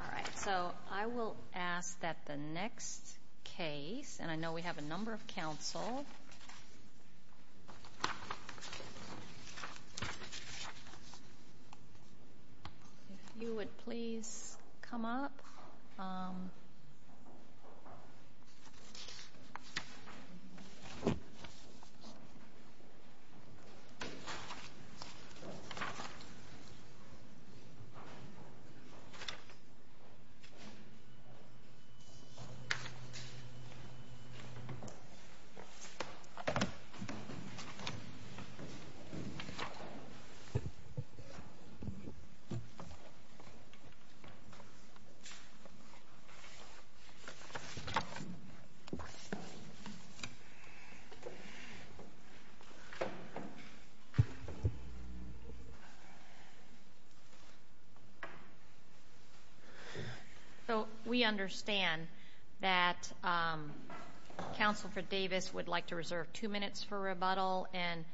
All right, so I will ask that the next case, and I know we have a number of counsels. If you would please come up. So we understand that counsel for Davis would like to reserve two minutes for rebuttal and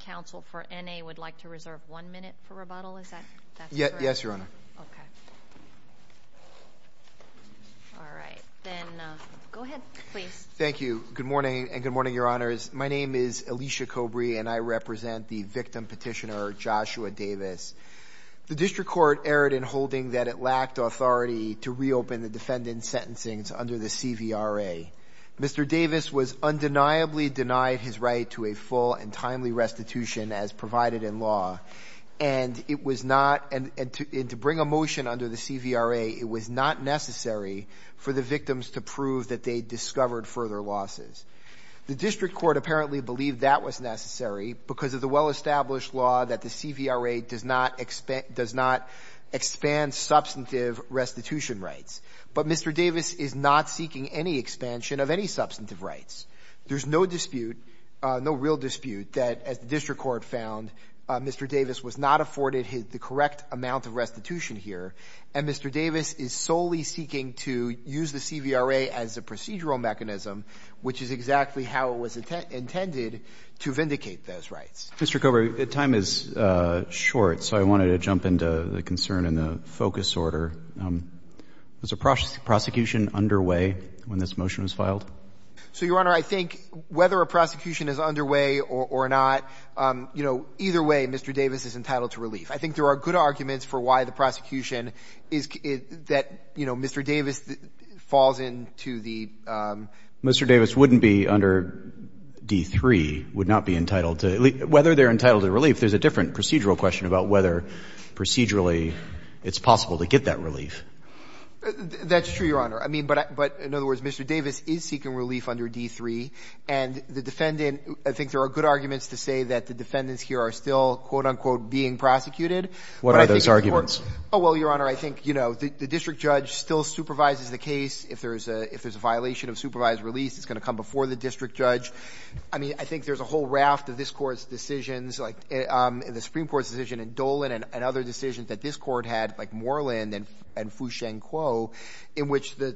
counsel for N.A. would like to reserve one minute for rebuttal. Is that correct? Yes, Your Honor. All right, then go ahead, please. Thank you. Good morning, and good morning, Your Honors. My name is Alicia Cobrey, and I represent the victim petitioner, Joshua Davis. The district court erred in holding that it lacked authority to reopen the defendant's sentencing under the CVRA. Mr. Davis was undeniably denied his right to a full and timely restitution as provided in law, and to bring a motion under the CVRA, it was not necessary for the victims to prove that they discovered further losses. The district court apparently believed that was necessary because of the well-established law that the CVRA does not expand substantive restitution rights, but Mr. Davis is not seeking any expansion of any substantive rights. There's no dispute, no real dispute, that the district court found Mr. Davis was not afforded the correct amount of restitution here, and Mr. Davis is solely seeking to use the CVRA as the procedural mechanism, which is exactly how it was intended to vindicate those rights. Mr. Cobrey, the time is short, so I wanted to jump into the concern in the focus order. Was a prosecution underway when this motion was filed? So, Your Honor, I think whether a prosecution is underway or not, you know, either way, Mr. Davis is entitled to relief. I think there are good arguments for why the wouldn't be under D3, would not be entitled to, whether they're entitled to relief, there's a different procedural question about whether procedurally it's possible to get that relief. That's true, Your Honor. I mean, but in other words, Mr. Davis is seeking relief under D3 and the defendant, I think there are good arguments to say that the defendants here are still quote-unquote being prosecuted. What are those arguments? Oh, well, Your Honor, I think, you know, the district judge still supervises the case if there's a violation of supervised release, it's going to come before the district judge. I mean, I think there's a whole raft of this court's decisions, like the Supreme Court's decision in Dolan and other decisions that this court had, like Moreland and Fu-Sheng Kuo, in which the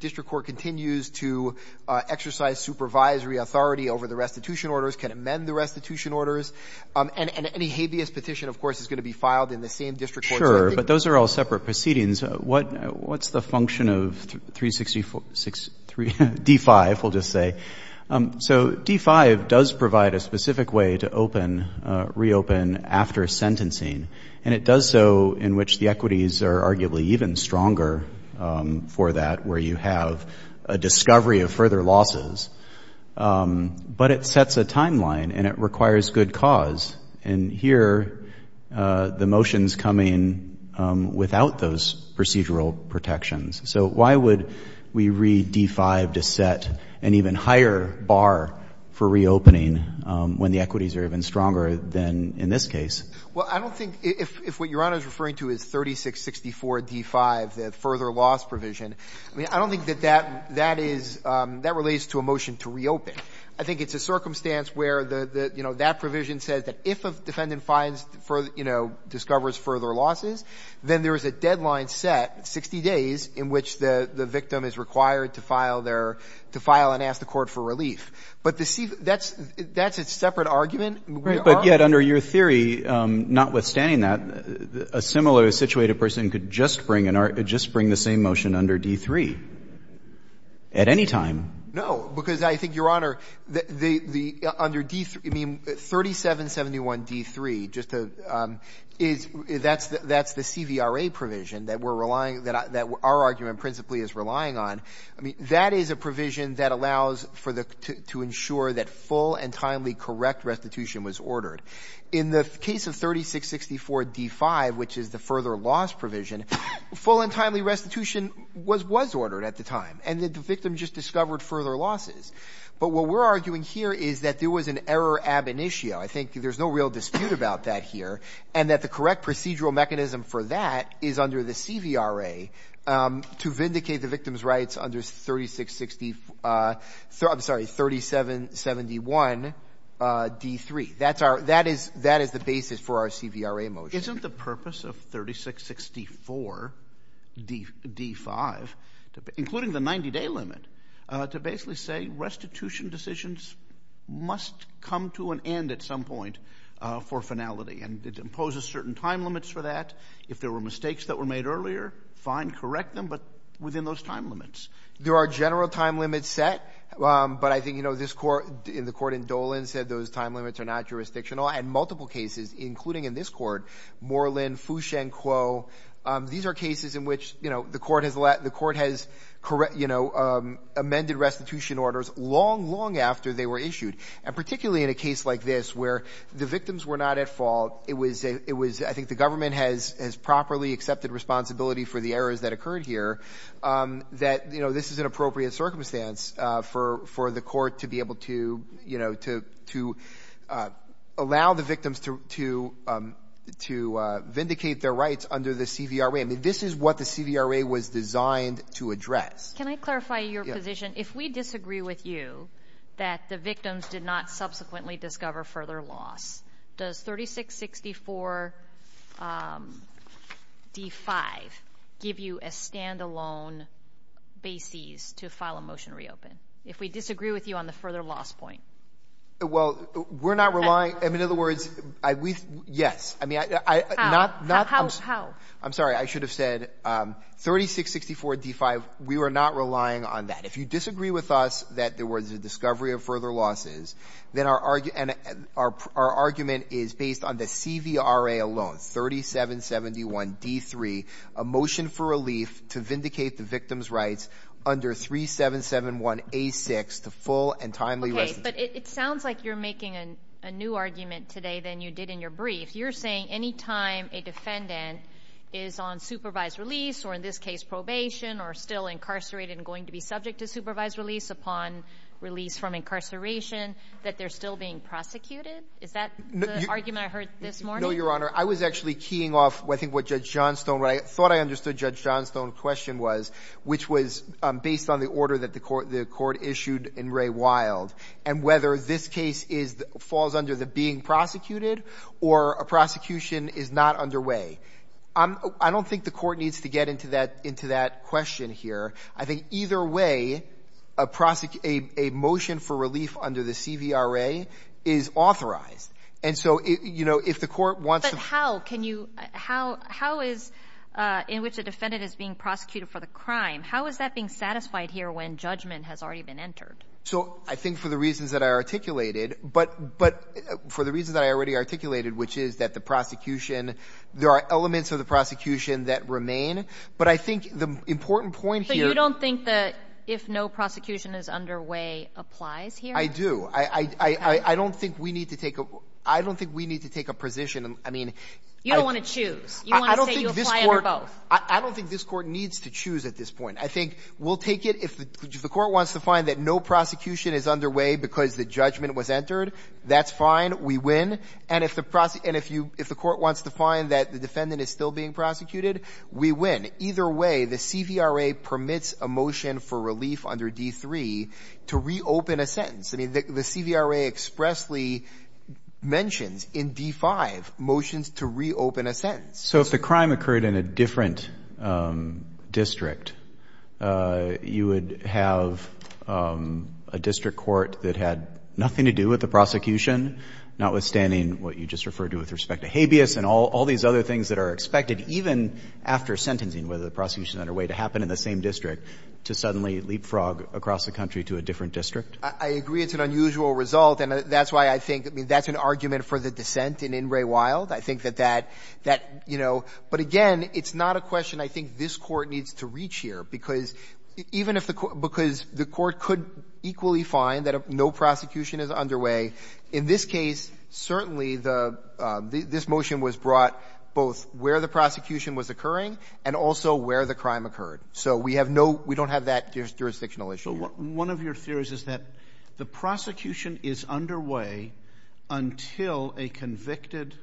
district court continues to exercise supervisory authority over the restitution orders, can amend the restitution orders, and any habeas petition, of course, is going to be filed in the same district court. But those are all separate proceedings. What's the function of D5, we'll just say? So D5 does provide a specific way to open, reopen after sentencing, and it does so in which the equities are arguably even stronger for that, where you have a discovery of further losses. But it sets a timeline, and it requires good cause. And here, the motion's coming without those procedural protections. So why would we read D5 to set an even higher bar for reopening when the equities are even stronger than in this case? Well, I don't think, if what Your Honor is referring to is 3664 D5, the further loss provision, I don't think that that relates to a motion to reopen. I think it's a circumstance where that provision says that if a defendant discovers further losses, then there is a deadline set, 60 days, in which the victim is required to file and ask the court for relief. But that's a separate argument. But yet, under your theory, notwithstanding that, a similar situated person could just bring the same motion under D3 at any time. No, because I think, Your Honor, 3771 D3, that's the CVRA provision that our argument principally is relying on. That is a provision that allows to ensure that full and timely correct restitution was ordered. In the case of 3664 D5, which is the further loss provision, full and timely restitution was ordered at the time, and the victim just discovered further losses. But what we're arguing here is that there was an error ab initio. I think there's no real dispute about that here, and that the correct procedural mechanism for that is under the CVRA to vindicate the victim's rights under 3771 D3. That is the basis for our CVRA motion. Isn't the purpose of 3664 D5, including the 90-day limit, to basically say restitution decisions must come to an end at some point for finality? And it imposes certain time limits for that. If there were mistakes that were made earlier, fine, correct them, but within those time limits. There are general time limits set, but I think, you know, this court, the court in Dolan said those time limits are not jurisdictional. And multiple cases, including in this court, Moreland, Fuxian Quo, these are cases in which, you know, the court has, you know, amended restitution orders long, long after they were issued. And particularly in a case like this, where the victims were not at fault, it was, I think the government has properly accepted responsibility for the errors that occurred here, that, you know, this is an appropriate circumstance for the court to be able to, you know, to allow the victims to vindicate their rights under the CVRA. I mean, this is what the CVRA was designed to address. Can I clarify your position? If we disagree with you that the victims did not subsequently allow a motion to reopen, if we disagree with you on the further loss point? Well, we're not relying, I mean, in other words, yes. I mean, I'm sorry, I should have said 3664 D5, we were not relying on that. If you disagree with us that there was a discovery of further losses, then our argument is based on the CVRA alone, 3771 D3, a motion for relief to vindicate the victims' rights under 3771 A6, the full and timely restitution. Okay, but it sounds like you're making a new argument today than you did in your brief. You're saying any time a defendant is on supervised release, or in this case, probation, or still incarcerated and going to be subject to supervised release upon release from incarceration, that they're still being prosecuted? Is that the argument I heard this morning? No, Your Honor. I was actually keying off, I think what Judge Johnstone, I thought I heard the question was, which was based on the order that the court issued in Ray Wild, and whether this case falls under the being prosecuted, or a prosecution is not underway. I don't think the court needs to get into that question here. I think either way, a motion for relief under the CVRA is authorized. And so, you know, if the court wants to- How is, in which the defendant is being prosecuted for the crime, how is that being satisfied here when judgment has already been entered? So I think for the reasons that I articulated, but for the reasons that I already articulated, which is that the prosecution, there are elements of the prosecution that remain, but I think the important point here- So you don't think that if no prosecution is underway applies here? I do. I don't think we need to take a position. I mean- You don't want to choose? You want to say you apply over both? I don't think this court needs to choose at this point. I think we'll take it if the court wants to find that no prosecution is underway because the judgment was entered, that's fine, we win. And if the court wants to find that the defendant is still being prosecuted, we win. Either way, the CVRA permits a motion for relief under D3 to reopen a sentence. The CVRA expressly mentioned in D5, motions to reopen a sentence. So if the crime occurred in a different district, you would have a district court that had nothing to do with the prosecution, notwithstanding what you just referred to with respect to habeas and all these other things that are expected, even after sentencing, whether the prosecution is underway to happen in the same district, to suddenly leapfrog across the country to a different district? I agree it's an unusual result, and that's why I think that's an argument for the dissent in Ingray-Wild. I think that that, you know- But again, it's not a question I think this court needs to reach here because the court could equally find that no prosecution is underway. In this case, certainly this motion was brought both where the prosecution was occurring and also where the crime occurred. So we don't have that jurisdictional issue. One of your theories is that the prosecution is underway until a convicted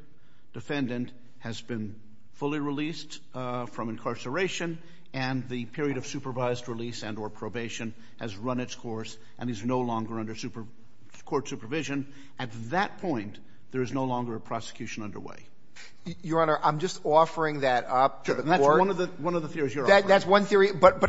defendant has been fully released from incarceration and the period of supervised release and or probation has run its course and is no longer under court supervision. At that point, there is no longer a prosecution underway. Your Honor, I'm just offering that up to the court. One of the theories you're offering. That's one theory, but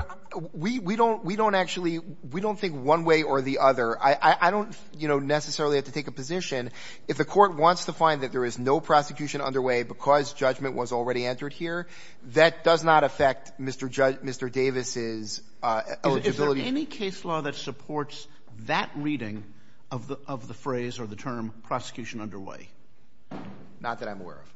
we don't think one way or the other. I don't necessarily have to take a position. If the court wants to find that there is no prosecution underway because judgment was already entered here, that does not affect Mr. Davis's eligibility. Is there any case law that supports that reading of the phrase or the term prosecution underway? Not that I'm aware of.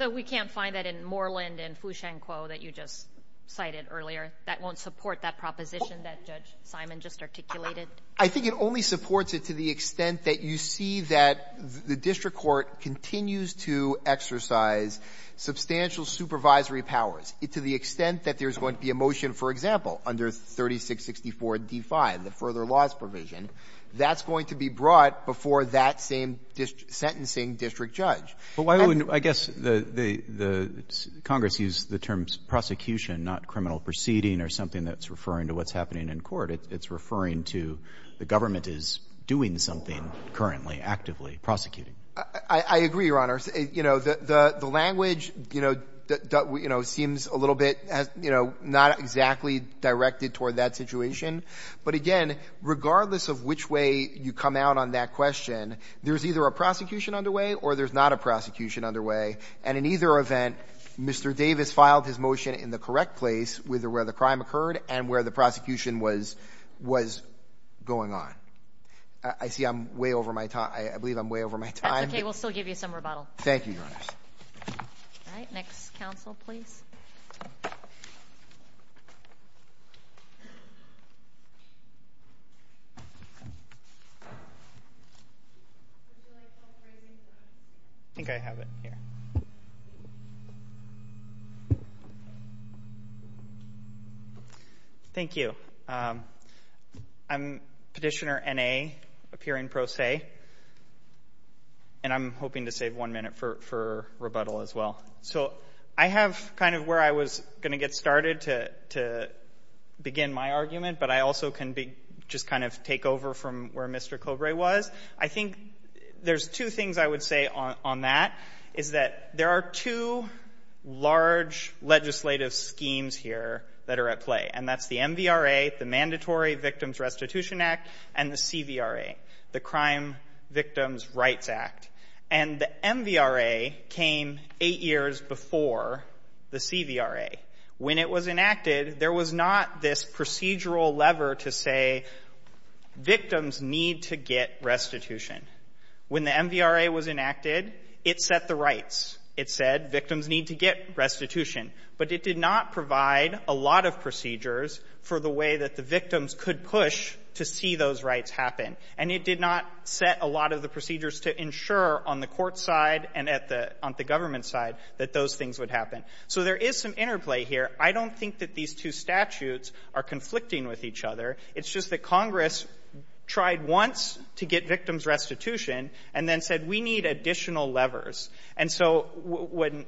So we can't find that in Moreland and Fushenko that you just cited earlier. That won't support that proposition that Judge Simon just articulated? I think it only supports it to the extent that you see that the district court continues to exercise substantial supervisory powers to the extent that there's going to be a motion, for example, under 3664 D5, the further laws provision. That's going to be brought before that same sentencing district judge. I guess Congress used the term prosecution, not criminal proceeding or something that's referring to what's happening in court. It's referring to the government is doing something currently, actively prosecuting. I agree, Your Honor. The language seems a little bit not exactly directed toward that situation. But again, regardless of which way you come out on that question, there's either a prosecution underway or there's not a prosecution underway. And in either event, Mr. Davis filed his motion in the correct place with where the crime occurred and where the prosecution was going on. I see I'm way over my time. I believe I'm way over my time. Okay. We'll still give you some rebuttals. Thank you, Your Honor. All right. Next counsel, please. I think I have it here. Thank you. I'm Petitioner N.A., appearing pro se. And I'm hoping to save one minute for rebuttal as well. So I have kind of where I was going to get started to begin my argument, but I also can just kind of take over from where Mr. Cobre was. I think there's two things I would say on that, is that there are two large legislative schemes here that are at play, and that's the MVRA, the Mandatory Victims Restitution Act, and the CVRA, the Crime Victims' Rights Act. And the MVRA came eight years before the CVRA. When it was enacted, there was not this procedural lever to say victims need to get restitution. When the MVRA was enacted, it set the rights. It said victims need to get restitution. But it did not provide a lot of procedures for the way that the victims could push to see those rights happen. And it did not set a lot of the procedures to ensure on the court side and on the government side that those things would happen. So there is some interplay here. I don't think that these two statutes are conflicting with each other. It's just that Congress tried once to get victims restitution and then said, we need additional levers. And so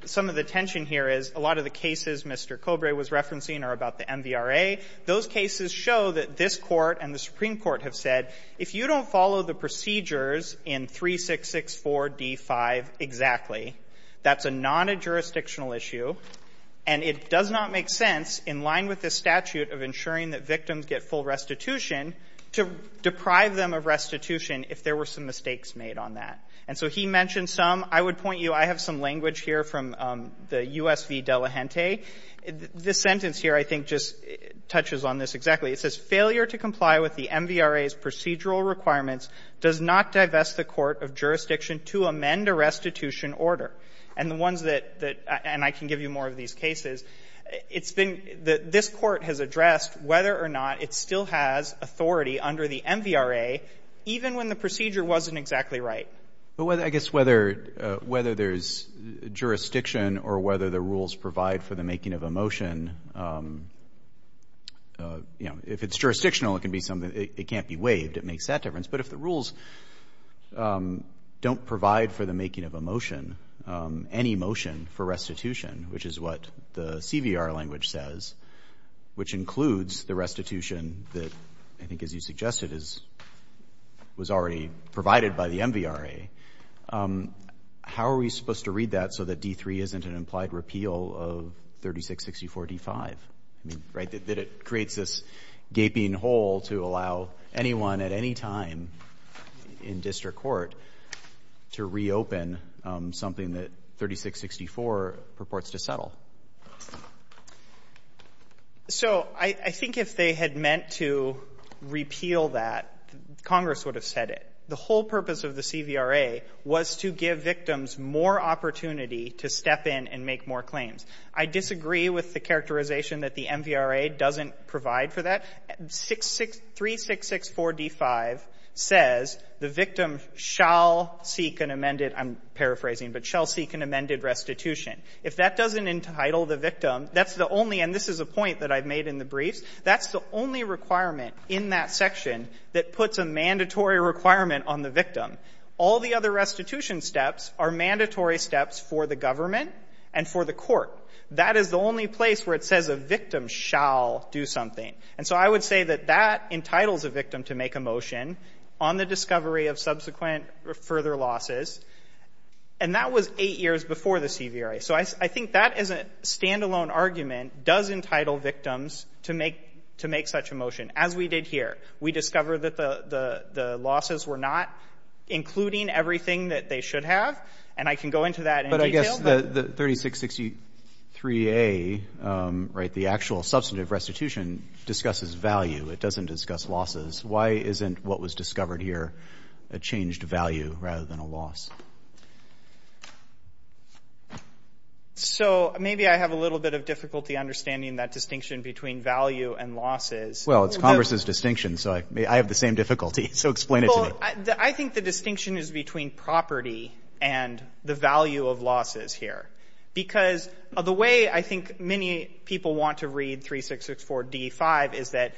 some of the tension here is a lot of the cases Mr. Cobre was referencing are about the MVRA. Those cases show that this court and the Supreme Court have said, if you don't follow the procedures in 3664 D5 exactly, that's a non-jurisdictional issue. And it does not make sense, in line with the statute of ensuring that victims get full restitution, to deprive them of restitution if there were some mistakes made on that. And so he mentioned some. I would point you, I have some language here from the USV Delegante. This sentence here, I think, just touches on this exactly. It says, failure to comply with the MVRA's procedural requirements does not divest the court of to amend a restitution order. And I can give you more of these cases. This court has addressed whether or not it still has authority under the MVRA, even when the procedure wasn't exactly right. I guess whether there's jurisdiction or whether the rules provide for the making of a motion, if it's jurisdictional, it can't be waived. It makes that difference. But if the rules don't provide for the making of a motion, any motion for restitution, which is what the CVR language says, which includes the restitution that, I think as you suggested, was already provided by the MVRA, how are we supposed to read that so that D3 isn't an implied repeal of 3664 D5? That it creates this gaping hole to allow anyone at any time in district court to reopen something that 3664 purports to settle. So I think if they had meant to repeal that, Congress would have said it. The whole purpose of the CVRA was to give victims more opportunity to step in and make more claims. I disagree with the characterization that the MVRA doesn't provide for that. 3664 D5 says the victim shall seek an amended, I'm paraphrasing, but shall seek an amended restitution. If that doesn't entitle the victim, that's the only, and this is a point that I've made in the brief, that's the only requirement in that section that puts a mandatory requirement on the victim. All the other restitution steps are mandatory steps for the government and for the court. That is the only place where it says the victim shall do something. And so I would say that that entitles a victim to make a motion on the discovery of subsequent or further losses, and that was eight years before the CVRA. So I think that as a standalone argument does entitle victims to make such a motion, as we did here. We discovered that the losses were not including everything that they should have, and I can go into that in detail. The 3663A, the actual substantive restitution, discusses value. It doesn't discuss losses. Why isn't what was discovered here a changed value rather than a loss? So maybe I have a little bit of difficulty understanding that distinction between value and losses. Well, it's Congress's distinction, so I have the same difficulty. So explain it to me. I think the distinction is between property and the value of losses here, because the way I think many people want to read 3664D5 is that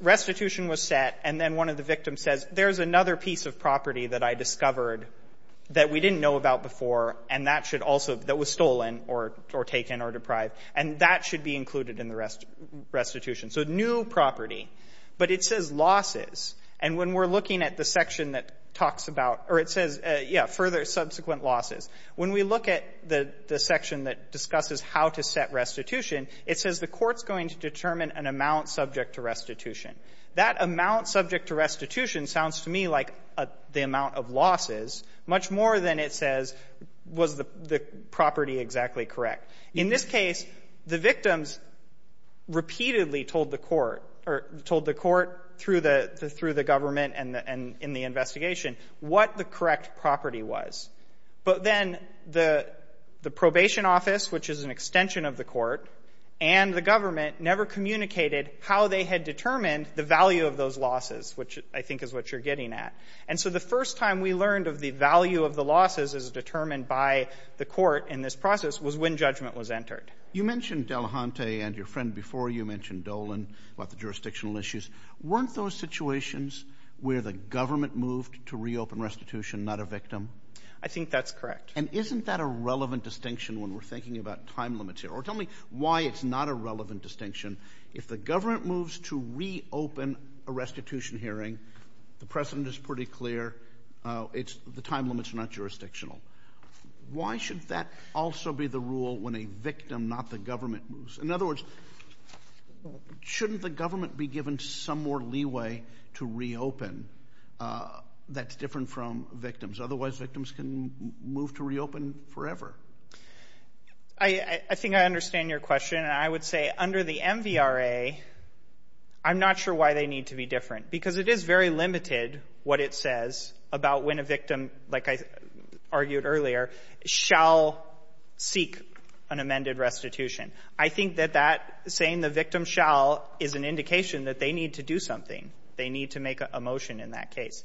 restitution was set, and then one of the victims says, there's another piece of property that I discovered that we didn't know about before, and that was stolen or taken or deprived, and that should be included in the restitution. So new property, but it says losses, and when we're looking at the section that talks about, or it says further subsequent losses, when we look at the section that discusses how to set restitution, it says the court's going to determine an amount subject to restitution. That amount subject to restitution sounds to me like the amount of losses, much more than it says was the property exactly correct. In this case, the victims repeatedly told the court, or told the court through the government and in the investigation, what the correct property was. But then the probation office, which is an extension of the court, and the government never communicated how they had determined the value of those losses, which I think is what you're getting at. And so the first time we learned of the value of the losses as determined by the court in this process was when judgment was entered. You mentioned Delahunty and your friend before you mentioned Dolan, about the jurisdictional issues. Weren't those situations where the government moved to reopen restitution, not a victim? I think that's correct. And isn't that a relevant distinction when we're thinking about time limits here? Or tell me why it's not a relevant distinction. If the government moves to reopen a restitution hearing, the precedent is pretty clear, the time limits are not jurisdictional. Why should that also be the rule when a victim, not the government, moves? In other words, shouldn't the government be given some more leeway to reopen that's different from victims? Otherwise, victims can move to reopen forever. I think I understand your question, and I would say under the MVRA, I'm not sure why they need to be different, because it is very limited what it says about when a victim, like I argued earlier, shall seek an amended restitution. I think that saying the victim shall is an indication that they need to do something. They need to make a motion in that case.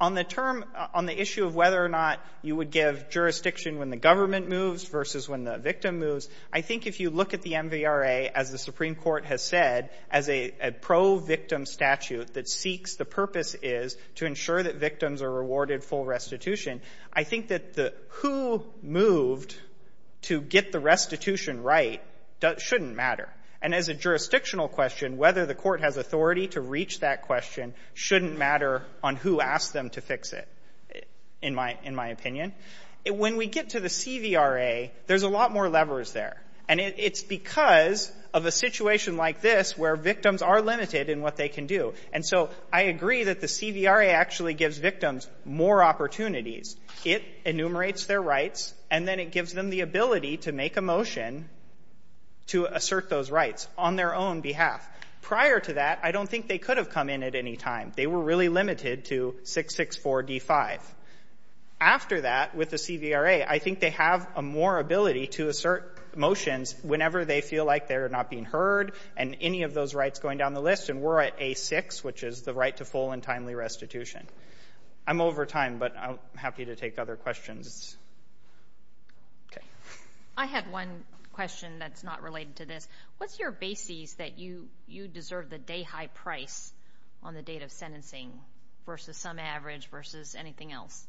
On the issue of whether or not you would give jurisdiction when the government moves versus when the victim moves, I think if you look at the MVRA, as the Supreme Court has said, as a pro-victim statute that seeks the purpose is to ensure that victims are rewarded full restitution, I think that the who moved to get the restitution right shouldn't matter. And as a jurisdictional question, whether the court has authority to reach that question shouldn't matter on who asked them to fix it, in my opinion. When we get to the a situation like this where victims are limited in what they can do, and so I agree that the CVRA actually gives victims more opportunities. It enumerates their rights, and then it gives them the ability to make a motion to assert those rights on their own behalf. Prior to that, I don't think they could have come in at any time. They were really limited to 664 D5. After that, with motions, whenever they feel like they're not being heard and any of those rights going down the list, and we're at A6, which is the right to full and timely restitution. I'm over time, but I'm happy to take other questions. Okay. I have one question that's not related to this. What's your basis that you deserve the day-high price on the date of sentencing versus some average versus anything else?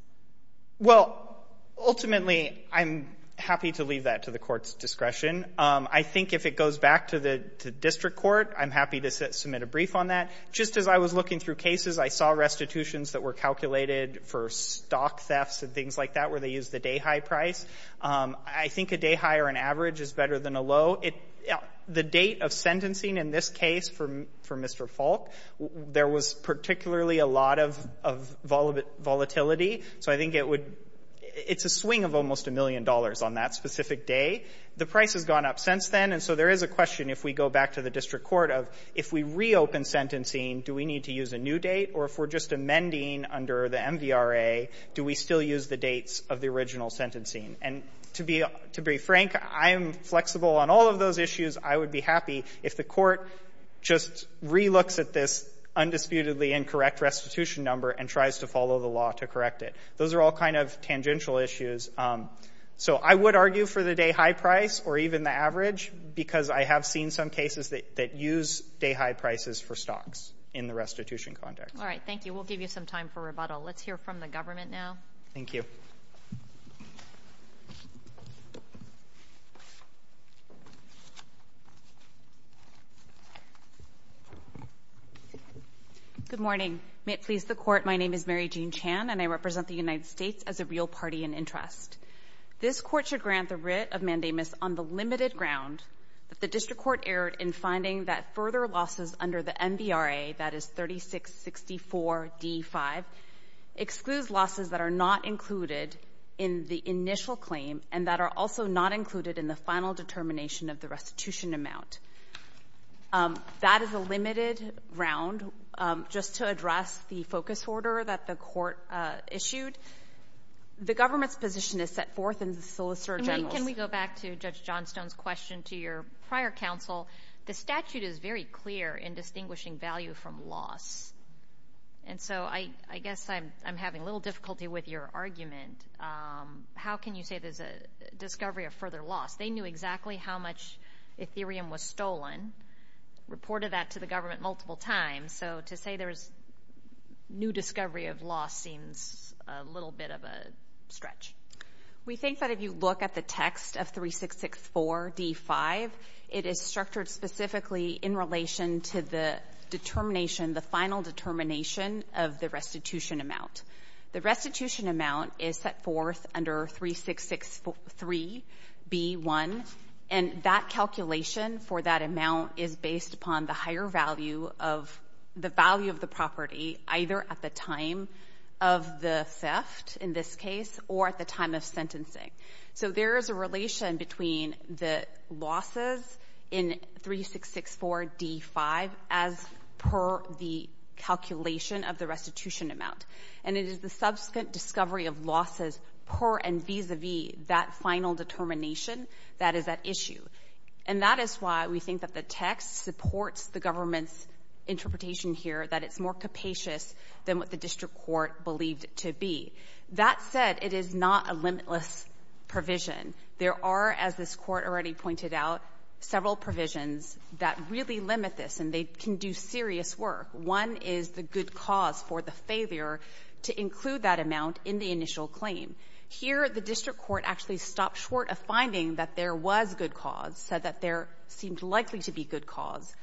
Well, ultimately, I'm happy to leave that to the court's discretion. I think if it goes back to the district court, I'm happy to submit a brief on that. Just as I was looking through cases, I saw restitutions that were calculated for stock thefts and things like that where they use the day-high price. I think a day-high or an average is better than a low. The date of sentencing in this case for Mr. Falk, there was particularly a lot of volatility, so I think it's a swing of almost a million dollars on that specific day. The price has gone up since then, and so there is a question if we go back to the district court of if we reopen sentencing, do we need to use a new date? Or if we're just amending under the MVRA, do we still use the dates of the original sentencing? To be frank, I'm flexible on all of those issues. I would be happy if the court just re-looks at this undisputedly incorrect restitution number and tries to follow the law to correct it. Those are all kind of tangential issues. I would argue for the day-high price or even the average because I have seen some cases that use day-high prices for stocks in the restitution context. All right, thank you. We'll give you some time for rebuttal. Let's hear from the government now. Thank you. Good morning. May it please the court, my name is Mary Jean Chan, and I represent the United States as a real party in interest. This court should grant the writ of mandamus on the limited ground that the district court erred in finding that further losses under the MVRA, that is 3664D5, excludes losses that are not included in the initial claim and that are also not included in the final determination of the restitution amount. That is a limited round. Just to address the focus order that the court issued, the government's position is set forth in the solicitor general. Can we go back to Judge Johnstone's question to your prior counsel? The statute is very clear in distinguishing value from loss. I guess I'm having a little difficulty with your argument. How can you say there's a discovery of further loss? They knew exactly how much ethereum was stolen, reported that to the government multiple times. To say there's new discovery of loss seems a little bit of a stretch. We think that if you look at the text of 3664D5, it is structured specifically in relation to the determination, the final determination of the restitution amount. The restitution amount is set forth under 3663B1, and that calculation for that amount is based upon the higher value of the value of the property, either at the time of the theft, in this case, or at the time of sentencing. There is a relation between the losses in 3664D5 as per the calculation of the restitution amount. It is the subsequent discovery of losses per and vis-a-vis that final determination that is at issue. That is why we think that the text supports the government's interpretation here that it's more capacious than what the district court believed it to be. That said, it is not a limitless provision. There are, as this court already pointed out, several provisions that really limit this, and they can do serious work. One is the good cause for the failure to include that amount in the initial claim. Here, the district court actually stopped short of finding that there was good cause, said that there seemed likely to be good cause,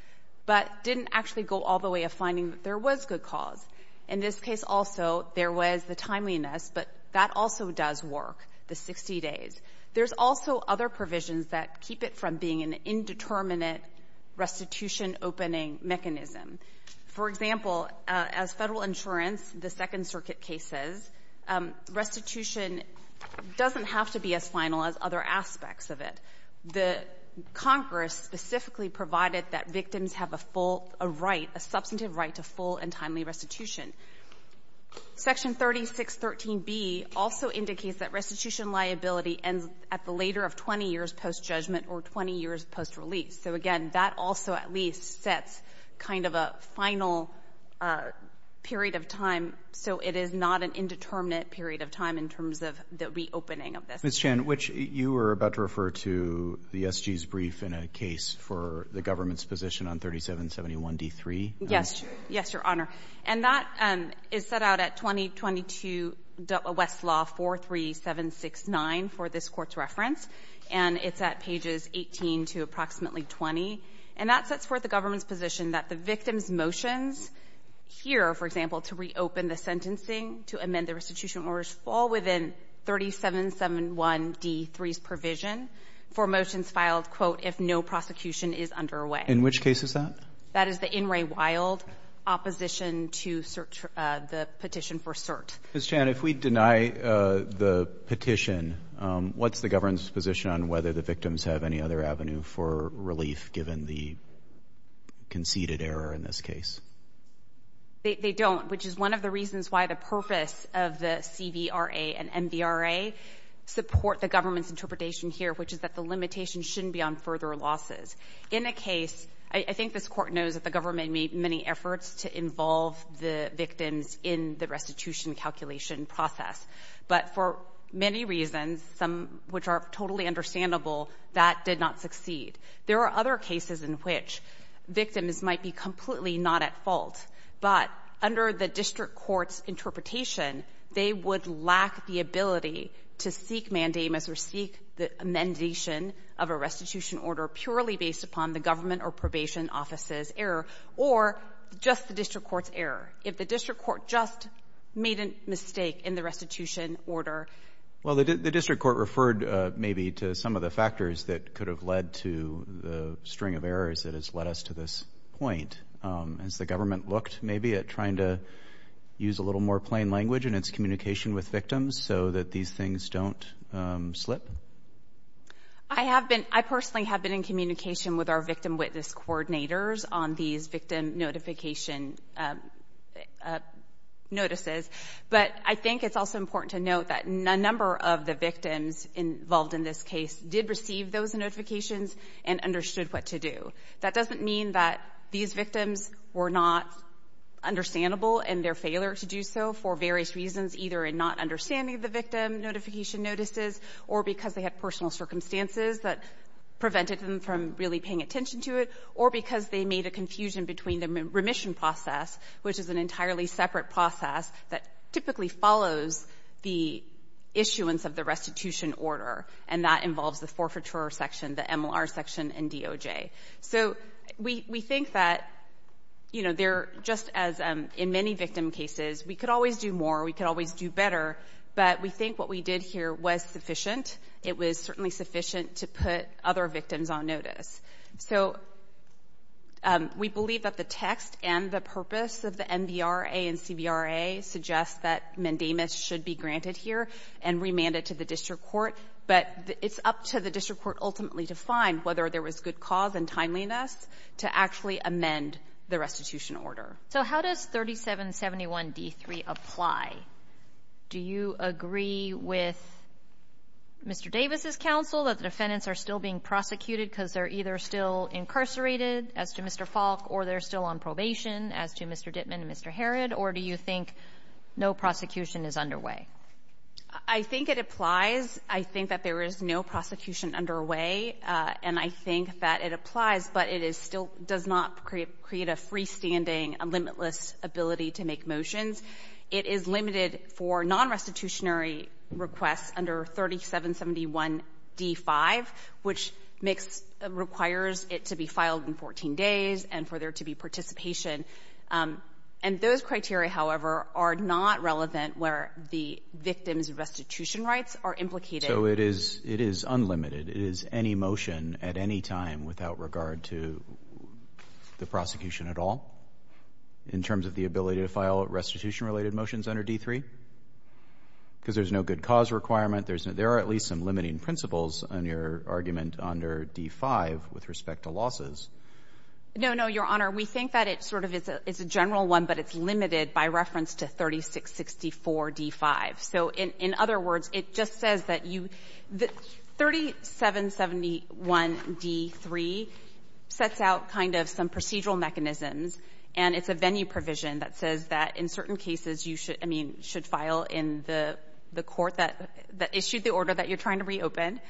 but didn't actually go all the way of finding that there was good cause. In this case, also, there was the timeliness, but that also does work, the 60 days. There's also other provisions that keep it from being an indeterminate restitution opening mechanism. For example, as federal insurance, the Second Circuit case says, restitution doesn't have to be as final as other aspects of it. The Congress specifically provided that victims have a substantive right to full and timely restitution. Section 3613B also indicates that restitution liability ends at the later of 20 years post-judgment or 20 years post-release. Again, that also at least sets kind of a final period of time, so it is not an indeterminate period of time in terms of the reopening of this. Ms. Chan, you were about to refer to the SG's brief in a case for the government's position on 3771D3. Yes, your honor. That is set out at 2022 Westlaw 43769 for this court's reference, and it's at pages 18 to approximately 20. That sets forth the government's position that the victim's motions here, for example, to reopen the sentencing, to amend the restitution orders, fall within 3771D3's provision for motions filed, quote, if no prosecution is underway. In which case is that? That is the petition for cert. Ms. Chan, if we deny the petition, what's the government's position on whether the victims have any other avenue for relief given the conceded error in this case? They don't, which is one of the reasons why the purpose of the CDRA and MDRA support the government's interpretation here, which is that the limitation shouldn't be on further losses. In the case, I think this court knows that the government made many efforts to involve the victims in the restitution calculation process, but for many reasons, some which are totally understandable, that did not succeed. There are other cases in which victims might be completely not at fault, but under the district court's interpretation, they would lack the ability to seek mandamus or seek the amendation of a restitution order purely based on the government or probation office's error or just the district court's error. If the district court just made a mistake in the restitution order. Well, the district court referred maybe to some of the factors that could have led to the string of errors that has led us to this point. Has the government looked maybe at trying to use a little more plain language in its communication with victims so that these things don't slip? I have been, I personally have been communicating with our victim witness coordinators on these victim notification notices, but I think it's also important to note that a number of the victims involved in this case did receive those notifications and understood what to do. That doesn't mean that these victims were not understandable in their failure to do so for various reasons, either in not understanding the victim notification notices or because they had personal circumstances that prevented really paying attention to it or because they made a confusion between the remission process, which is an entirely separate process that typically follows the issuance of the restitution order and that involves the forfeiture section, the MLR section and DOJ. So we think that, you know, just as in many victim cases, we could always do more, we could always do better, but we think what we did here was sufficient. It was certainly sufficient to put other victims on notice. So we believe that the text and the purpose of the MDRA and CBRA suggest that MENDANA should be granted here and remanded to the district court, but it's up to the district court ultimately to find whether there was good cause and timeliness to actually amend the restitution order. So how does 3771 D3 apply? Do you agree with Mr. Davis's counsel that defendants are still being prosecuted because they're either still incarcerated, as to Mr. Falk, or they're still on probation, as to Mr. Dittman and Mr. Herod, or do you think no prosecution is underway? I think it applies. I think that there is no prosecution underway and I think that it applies, but it still does not create a freestanding, limitless ability to make motions. It is limited for non-restitutionary requests under 3771 D5, which requires it to be filed in 14 days and for there to be participation. And those criteria, however, are not relevant where the victim's restitution rights are implicated. So it is unlimited, it is any motion at any time without regard to the prosecution at all, in terms of the ability to file restitution related motions under D3? Because there's no good cause requirement, there are at least some limiting principles on your argument under D5 with respect to losses. No, no, Your Honor, we think that it sort of is a general one, but it's limited by reference to 3664 D5. So in other words, it just says that 3771 D3 sets out kind of some procedural mechanisms and it's a venue provision that says that in certain cases you should file in the court that issued the order that you're trying to reopen,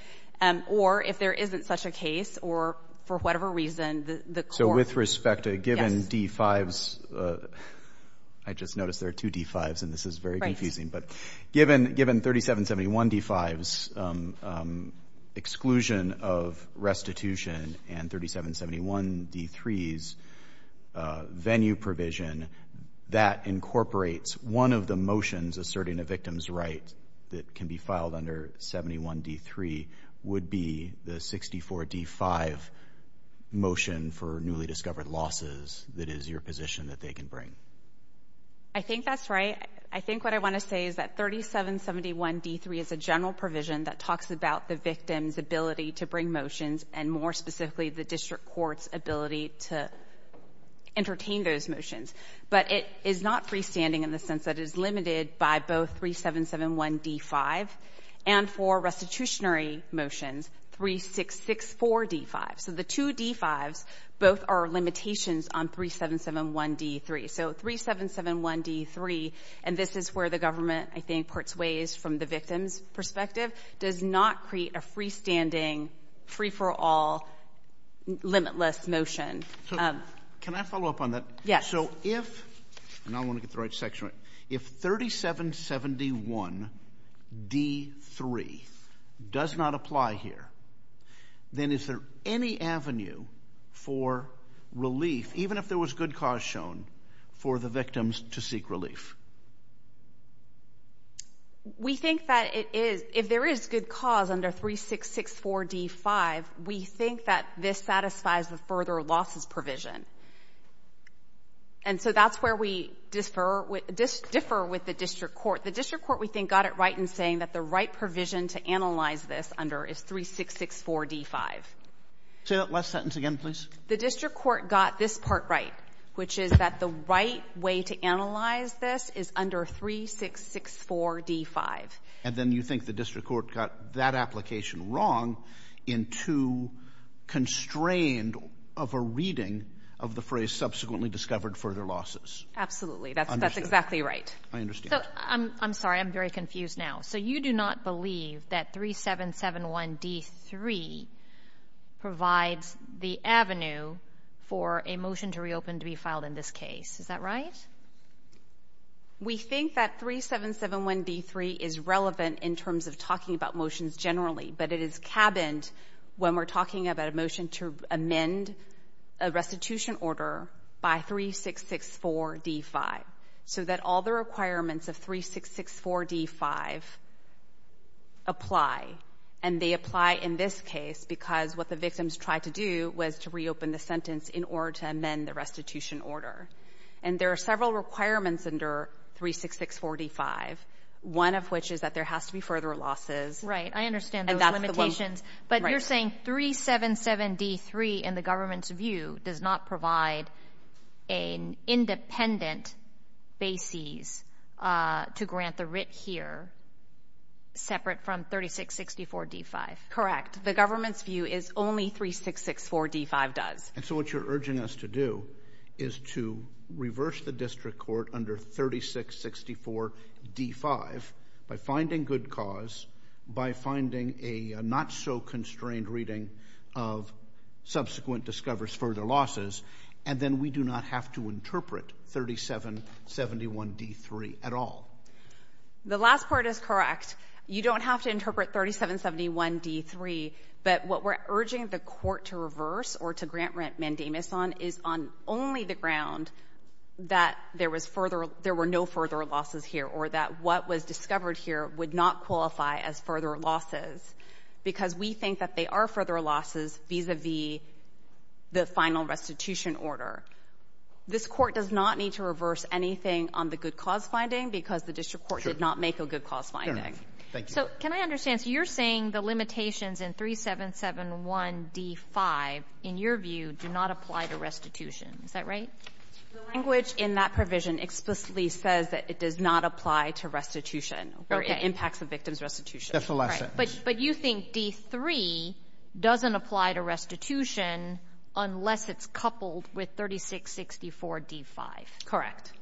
or if there isn't such a case, or for whatever reason, the court... So with respect given D5s, I just noticed there are two D5s and this is very confusing, but given 3771 D5's exclusion of restitution and 3771 D3's venue provision, that incorporates one of the motions asserting a victim's right that can be filed under 71 D3 would be the 64 D5 motion for newly discovered losses that is your position that they can bring. I think that's right. I think what I want to say is that 3771 D3 is a general provision that talks about the victim's ability to bring motions and more specifically the district court's ability to entertain those motions, but it is not freestanding in the sense that it's limited by both 3771 D5 and for restitutionary motions, 3664 D5. So the two D5s, both are limitations on 3771 D3. So 3771 D3, and this is where the government, I think, puts ways from the victim's perspective, does not create a freestanding, free-for-all, limitless motion. Can I follow up on that? Yes. So if, and I want to get the right then is there any avenue for relief, even if there was good cause shown, for the victims to seek relief? We think that it is, if there is good cause under 3664 D5, we think that this satisfies the further losses provision. And so that's where we differ with the district court. The district court, we think, got it right in saying that the right provision to analyze this under is 3664 D5. Say that last sentence again, please. The district court got this part right, which is that the right way to analyze this is under 3664 D5. And then you think the district court got that application wrong in too constrained of a reading of the phrase subsequently discovered further losses. Absolutely, that's exactly right. I'm sorry, I'm very confused now. So you do not believe that 3771 D3 provides the avenue for a motion to reopen to be filed in this case, is that right? We think that 3771 D3 is relevant in terms of talking about motions generally, but it is when we're talking about a motion to amend a restitution order by 3664 D5, so that all the requirements of 3664 D5 apply. And they apply in this case because what the victims tried to do was to reopen the sentence in order to amend the restitution order. And there are several requirements under 3664 D5, one of which is that there has to be further losses. Right, I understand those limitations, but you're saying 377 D3 in the government's view does not provide an independent basis to grant the writ here separate from 3664 D5. Correct. The government's view is only 3664 D5 does. And so what you're urging us to do is to reverse the district court under 3664 D5 by finding good cause, by finding a not-so-constrained reading of subsequent discoveries for the losses, and then we do not have to interpret 3771 D3 at all. The last part is correct. You don't have to interpret 3771 D3, but what we're urging the court to reverse or to grant remandamus on is on only the ground that there was further, there were no further losses here, or that what was discovered here would not qualify as further losses, because we think that they are further losses vis-a-vis the final restitution order. This court does not need to reverse anything on the good cause finding because the district court did not make a good cause finding. So can I understand, so you're saying the limitations in 3771 D5, in your view, do not apply to restitution. Is that right? The language in that provision explicitly says that it does not apply to restitution or impacts the victim's restitution. That's the last part. But you think D3 doesn't apply to restitution unless it's coupled with 3664 D5. Correct.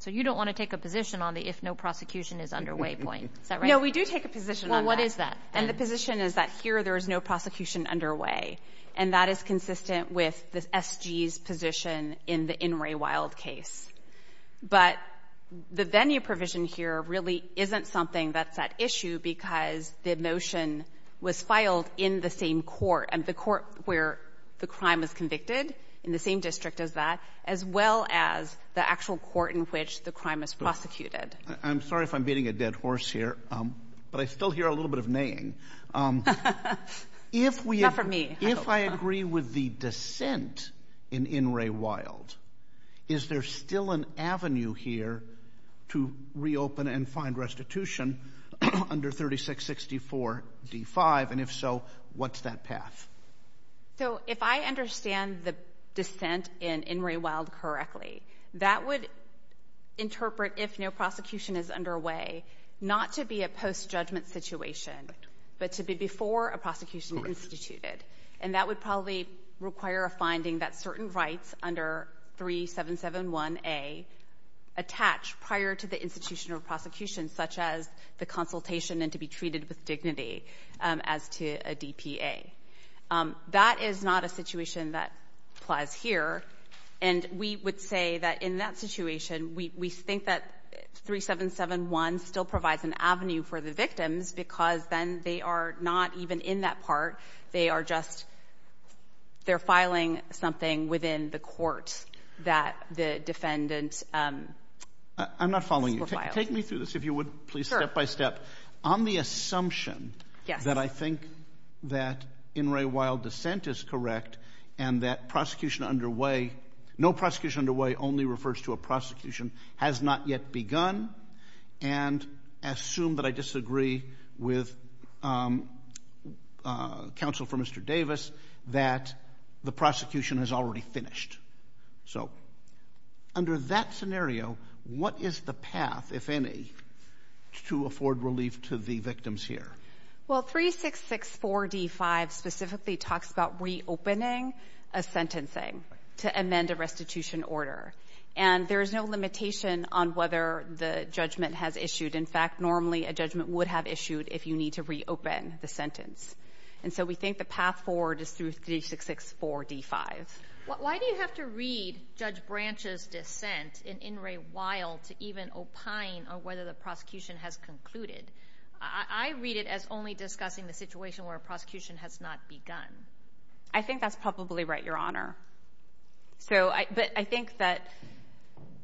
So you don't want to take a position on the if no prosecution is underway point. Is that right? No, we do take a position on that. Well, what is that? And the position is that here there is no prosecution underway, and that is consistent with the SG's position in the In Re Wild case. But the venue provision here really isn't something that's at issue because the motion was filed in the same court, and the court where the crime was convicted, in the same district as that, as well as the actual court in which the crime was prosecuted. I'm sorry if I'm beating a dead horse here, but I still hear a little bit of neighing. If I agree with the dissent in In Re Wild, is there still an avenue here to reopen and find restitution under 3664 D5? And if so, what's that path? So if I understand the dissent in In Re Wild correctly, that would interpret if no prosecution is underway not to be a post-judgment situation, but to be before a prosecution was instituted. And that would probably require a finding that certain rights under 3771A attach prior to the institutional prosecution, such as the consultation and to be treated with dignity as to a DPA. That is not a situation that applies here. And we would say that in that situation, we think that 3771 still provides an avenue for the victims because then they are not even in that part, they are just, they're filing something within the court that the defendant... I'm not following you. Take me through this, if you would, please, step by step. On the assumption that I think that In Re Wild dissent is correct and that prosecution underway, no prosecution underway only refers to a prosecution, has not yet begun, and assume that I disagree with counsel for Mr. Davis that the prosecution has already finished. So under that scenario, what is the path, if any, to afford relief to the victims here? Well, 3664 D5 specifically talks about reopening a sentencing to amend a restitution order. And there's no limitation on whether the judgment has issued. In fact, normally a judgment would have issued if you need to reopen the sentence. And so we think the path forward is through 3664 D5. Why do you have to read Judge Branch's dissent in In Re Wild to even opine on whether the prosecution has concluded? I read it as only discussing the situation where a prosecution has not begun. I think that's probably right, Your Honor. But I think that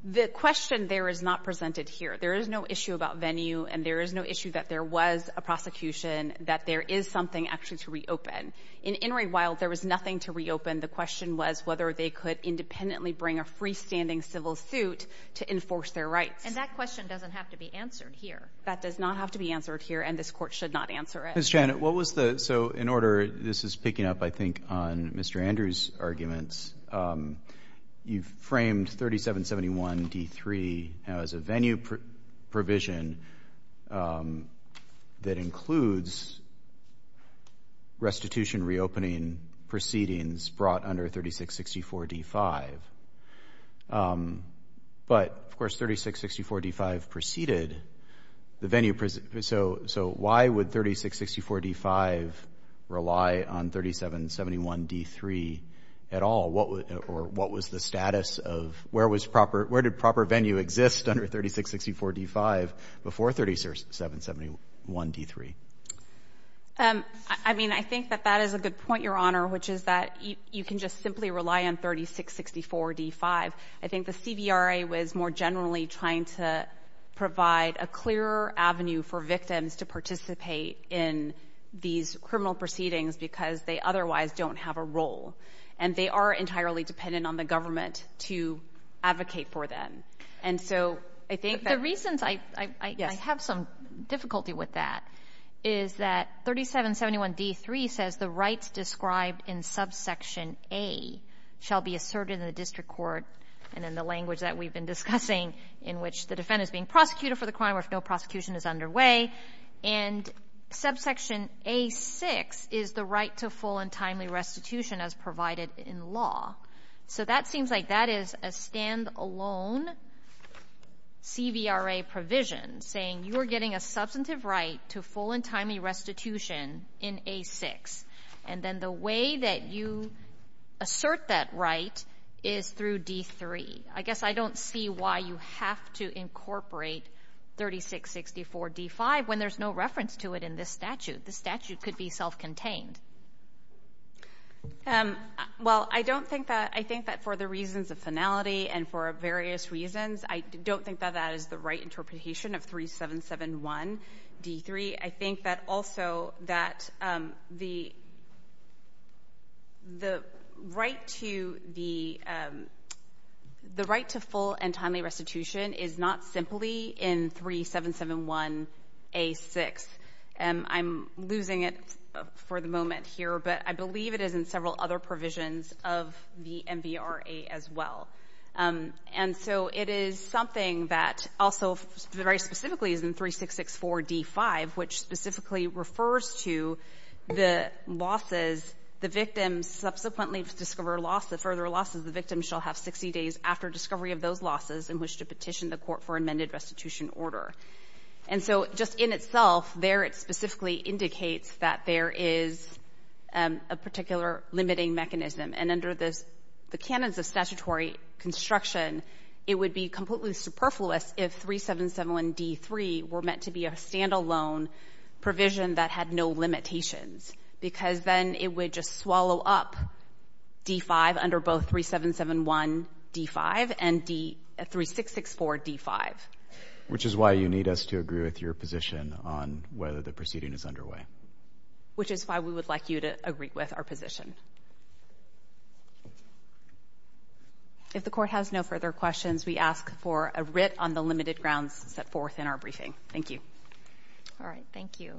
the question there is not presented here. There is no issue about venue, and there is no issue that there was a prosecution, that there is something actually to reopen. In In Re Wild, there was nothing to reopen. The question was whether they could independently bring a freestanding civil suit to enforce their rights. And that question doesn't have to be answered here. That does not have to be answered here, and this court should not answer it. Ms. Janet, what was the, so in order, this is picking up, I think, on Mr. Andrews' arguments, you've framed 3771 D3 as a venue provision that includes restitution reopening proceedings brought under 3664 D5. But, of course, 3664 D5 preceded the venue, so why would 3664 D5 rely on 3771 D3 at all? Or what was the status of, where did proper venue exist under 3664 D5 before 3771 D3? I mean, I think that that is a good point, Your Honor, which is that you can just simply rely on 3664 D5. I think the CVRA was more generally trying to provide a clearer avenue for victims to participate in these criminal proceedings because they otherwise don't have a role, and they are entirely dependent on the government to advocate for them. And so, I think that... But the reasons I have some difficulty with that is that 3771 D3 says the rights described in subsection A shall be asserted in the district court, and in the language that we've been discussing, in which the defendant is being prosecuted for the crime or if no prosecution is underway, and subsection A6 is the right to full and timely restitution as provided in law. So, that seems like that is a stand-alone CVRA provision saying you are getting a substantive right to full and timely restitution in A6, and then the way that you assert that right is through D3. I guess I don't see why you have to incorporate 3664 D5 when there's no reference to it in this statute. The statute could be self-contained. Well, I don't think that... I think that for the reasons of finality and for various reasons, I don't think that that is the right interpretation of 3771 D3. I think that also that the right to full and timely restitution is not simply in 3771 A6. I'm losing it for the moment here, but I believe it is in several other provisions of the MVRA as well. And so, it is something that the right specifically is in 3664 D5, which specifically refers to the losses, the victim subsequently to discover further losses, the victim shall have 60 days after discovery of those losses in which to petition the court for amended restitution order. And so, just in itself, there it specifically indicates that there is a particular limiting mechanism, and under the canons of statutory construction, it would be completely superfluous if 3771 D3 were meant to be a standalone provision that had no limitations, because then it would just swallow up D5 under both 3771 D5 and 3664 D5. Which is why you need us to agree with your position on whether the proceeding is underway. Which is why we would like you to agree with our position. If the court has no further questions, we ask for a writ on the limited grounds set forth in our briefing. Thank you. All right. Thank you.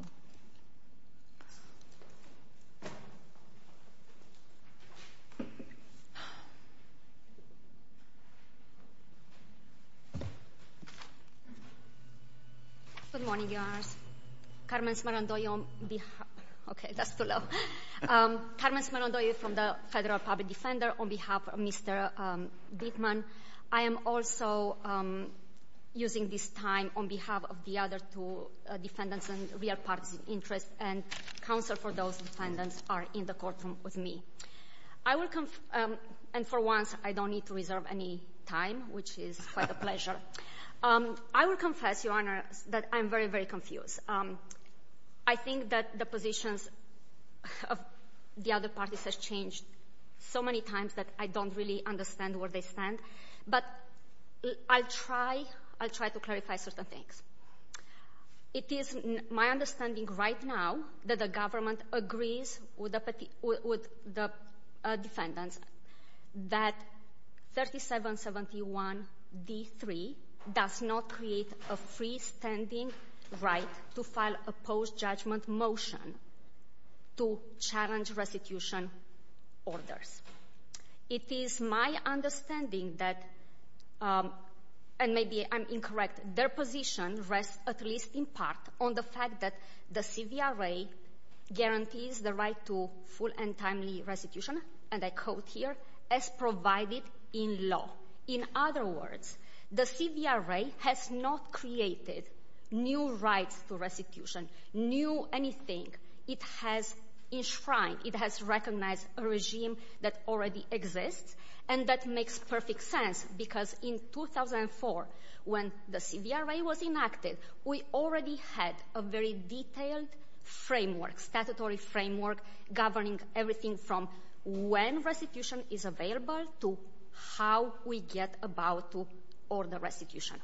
Good morning, Your Honor. Carmen Esmeraldo from the Federal Public Defender on behalf of Mr. and Counsel for those defendants are in the courtroom with me. And for once, I don't need to reserve any time, which is quite a pleasure. I will confess, Your Honor, that I'm very, very confused. I think that the positions of the other parties have changed so many times that I don't really understand where they stand. But I'll try to clarify certain things. It is my understanding right now that the government agrees with the defendants that 3771 D3 does not create a freestanding right to file a post-judgment motion to challenge restitution orders. It is my understanding that, and maybe I'm incorrect, their position rests at least in part on the fact that the CDRA guarantees the right to full and timely restitution, and I quote here, as provided in law. In other words, the CDRA has not created new rights to restitution, new anything. It has enshrined, it has recognized a regime that already exists. And that makes perfect sense because in 2004, when the CDRA was enacted, we already had a very detailed framework, statutory framework, governing everything from when restitution is available to how we get about to order restitution.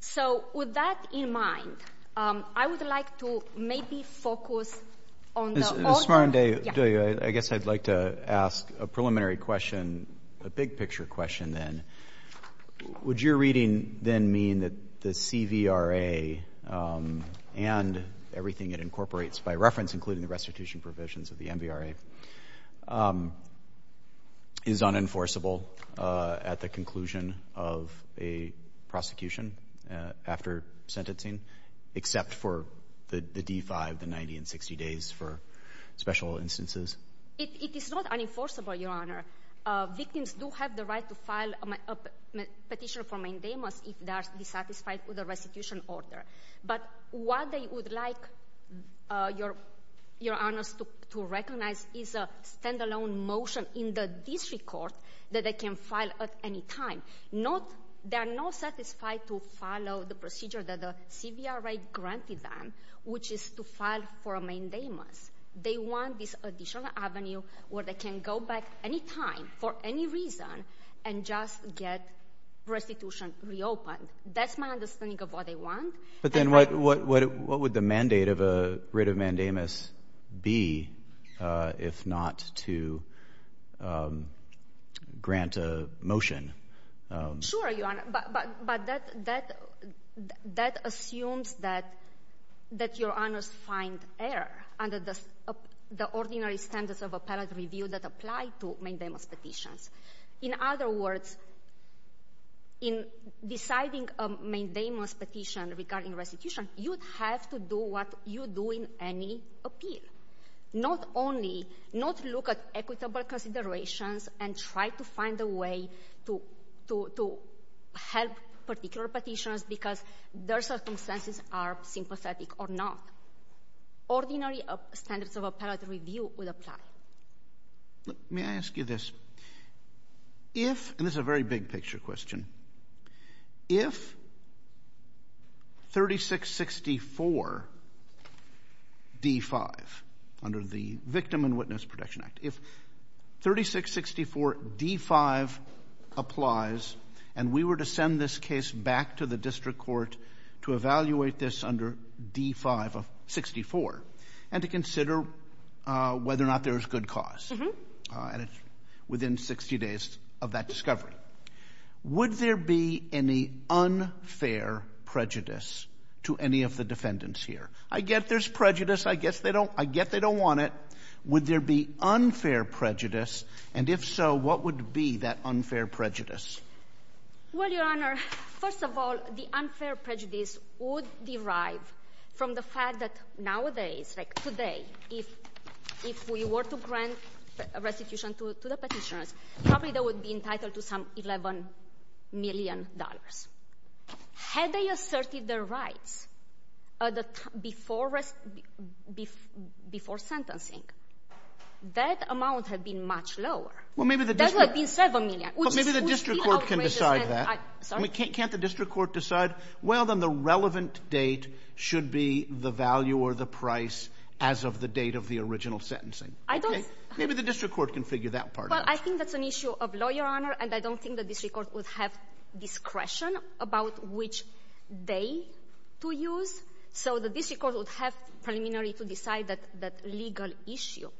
So with that in mind, I would like to maybe focus on... Julia, I guess I'd like to ask a preliminary question, a big picture question then. Would your reading then mean that the CDRA and everything it incorporates by reference, including the restitution provisions of the NBRA, is unenforceable at the conclusion of a prosecution after sentencing, except for the D-5, the 90 and 60 days for special instances? It is not unenforceable, Your Honor. Victims do have the right to file a petition for maintenance if they are dissatisfied with the restitution order. But what they would like Your Honor to recognize is a standalone motion in the district court that they can file at any time. There are no satisfied to follow the procedure that the CDRA granted them, which is to file for a mandamus. They want this additional avenue where they can go back anytime for any reason and just get restitution reopened. That's my understanding of what they want. But then what would the mandate of a writ of mandamus be if not to grant a motion? Sure, Your Honor, but that assumes that Your Honor finds error under the ordinary standards of appellate review that apply to mandamus petitions. In other words, in deciding a mandamus petition regarding restitution, you have to do what you do in any Not only not look at equitable considerations and try to find a way to help particular petitions because their circumstances are sympathetic or not. Ordinary standards of appellate review will apply. Let me ask you this. If, and this is a very big picture question, if 3664 D5 under the Victim and Witness Protection Act, if 3664 D5 applies and we were to send this case back to the district court to evaluate this under D5 of 64 and to consider whether or not there's good cause within 60 days of that discovery, would there be any unfair prejudice to any of the defendants here? I get there's prejudice. I guess they don't. I get they don't want it. Would there be unfair prejudice? And if so, what would be that unfair prejudice? Well, Your Honor, first of all, the unfair prejudice would derive from the fact that today, if we were to grant restitution to the petitioners, probably they would be entitled to some $11 million. Had they asserted their rights before sentencing, that amount had been much lower. That would have been $7 million. Well, maybe the district court can decide that. Can't the district court decide, well, then the relevant date should be the value or the price as of the date of the original sentencing. Maybe the district court can figure that part out. Well, I think that's an issue of law, Your Honor, and I don't think the district court would have discretion about which day to use. So the district court would have preliminary to decide that legal issue.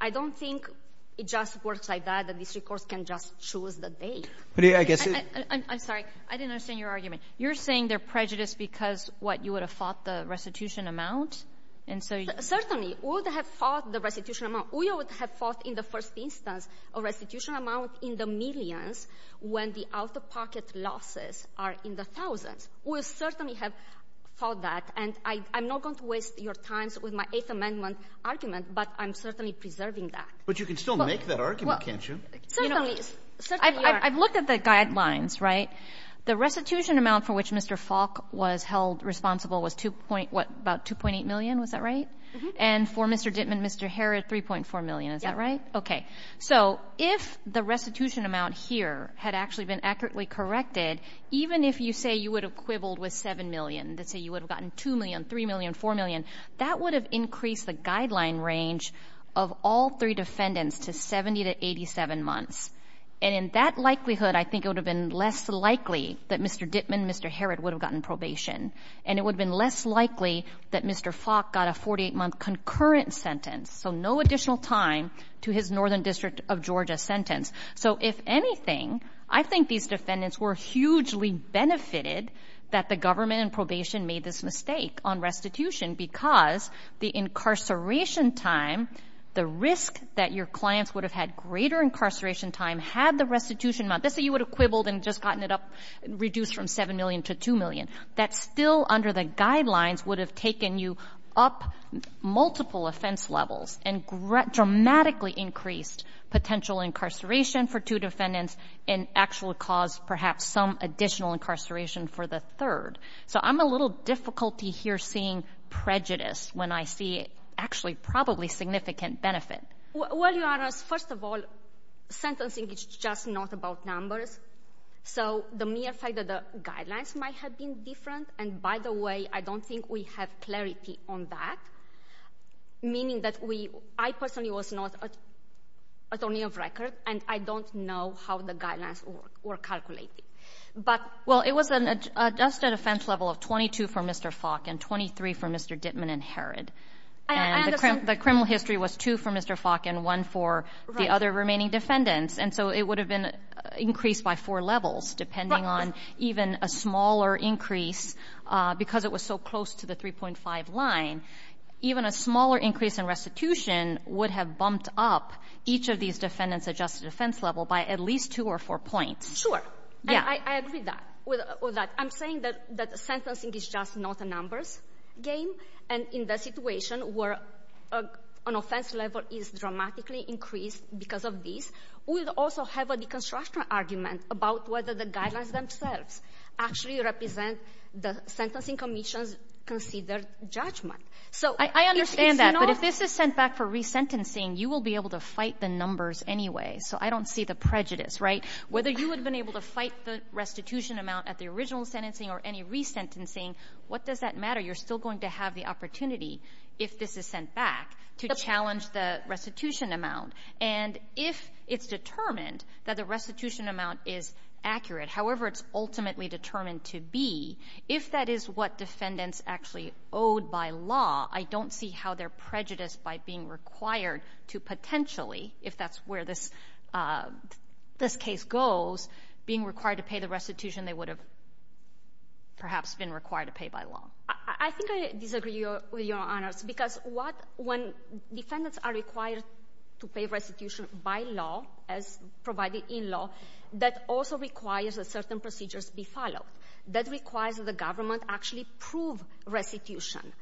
I don't think it just works like that. The district court can just choose the date. I'm sorry, I didn't understand your argument. You're saying they're prejudiced because, what, you would have fought the restitution amount? Certainly, we would have fought the restitution amount. We would have fought, in the first instance, a restitution amount in the millions when the out-of-pocket losses are in the thousands. We would certainly have fought that, and I'm not going to waste your time with my Eighth Amendment argument, but I'm certainly preserving that. But you can still make that argument, can't you? Certainly. I've looked at the guidelines, right? The restitution amount for which Mr. Falk was held responsible was, what, about $2.8 million, was that right? And for Mr. Dittman, Mr. Harrod, $3.4 million, is that right? Yes. Okay. So if the restitution amount here had actually been accurately corrected, even if you say you would have quibbled with $7 million, let's say you would have gotten $2 million, $3 million, $4 million, that would have increased the guideline range of all three defendants to 70 to 87 months. And in that likelihood, I think it would have been less likely that Mr. Dittman, Mr. Harrod would have gotten probation, and it would have been less likely that Mr. Falk got a 48-month concurrent sentence, so no additional time to his Northern District of Georgia sentence. So if anything, I think these defendants were hugely benefited that the government in probation made this mistake on restitution because the incarceration time, the risk that your clients would have had greater incarceration time had the restitution amount, let's say you would have quibbled and just gotten it up, reduced from $7 million to $2 million, that still under the guidelines would have taken you up multiple offense levels and dramatically increased potential incarceration for two defendants and actually caused perhaps some additional incarceration for the third. So I'm a little difficulty here seeing prejudice when I see actually probably significant benefit. Well, your Honor, first of all, sentencing is just not about numbers, so the mere fact that the guidelines might have been different, and by the way, I don't think we have clarity on that, meaning that we, I personally was not attorney of record, and I don't know how the guidelines were calculated. Well, it was an adjusted offense level of 22 for Mr. Falk and 23 for Mr. Dittman and Herod, and the criminal history was two for Mr. Falk and one for the other remaining defendants, and so it would have been increased by four levels depending on even a smaller increase because it was so close to the 3.5 line. Even a smaller increase in restitution would have bumped up each of these defendants' adjusted offense level by at least two or four points. Sure. I agree with that. I'm saying that sentencing is just not a numbers game, and in the situation where an offense level is dramatically increased because of this, we would also have a deconstruction argument about whether the guidelines themselves actually represent the sentencing commission's considered judgment. I understand that, but if this is sent back for resentencing, you will be able to fight the numbers anyway, so I don't see the prejudice, right? Whether you would have been able to fight the restitution amount at the original sentencing or any resentencing, what does that matter? You're still going to have the opportunity, if this is sent back, to challenge the restitution amount, and if it's determined that the restitution amount is accurate, however it's ultimately determined to be, if that is what defendants actually owed by law, I don't see how they're prejudiced by being required to potentially, if that's where this case goes, being required to pay the restitution they would have perhaps been required to pay by law. I think I disagree with your honors because when defendants are required to pay restitution by law as provided in law, that also requires that certain procedures be followed. That requires the government actually prove restitution,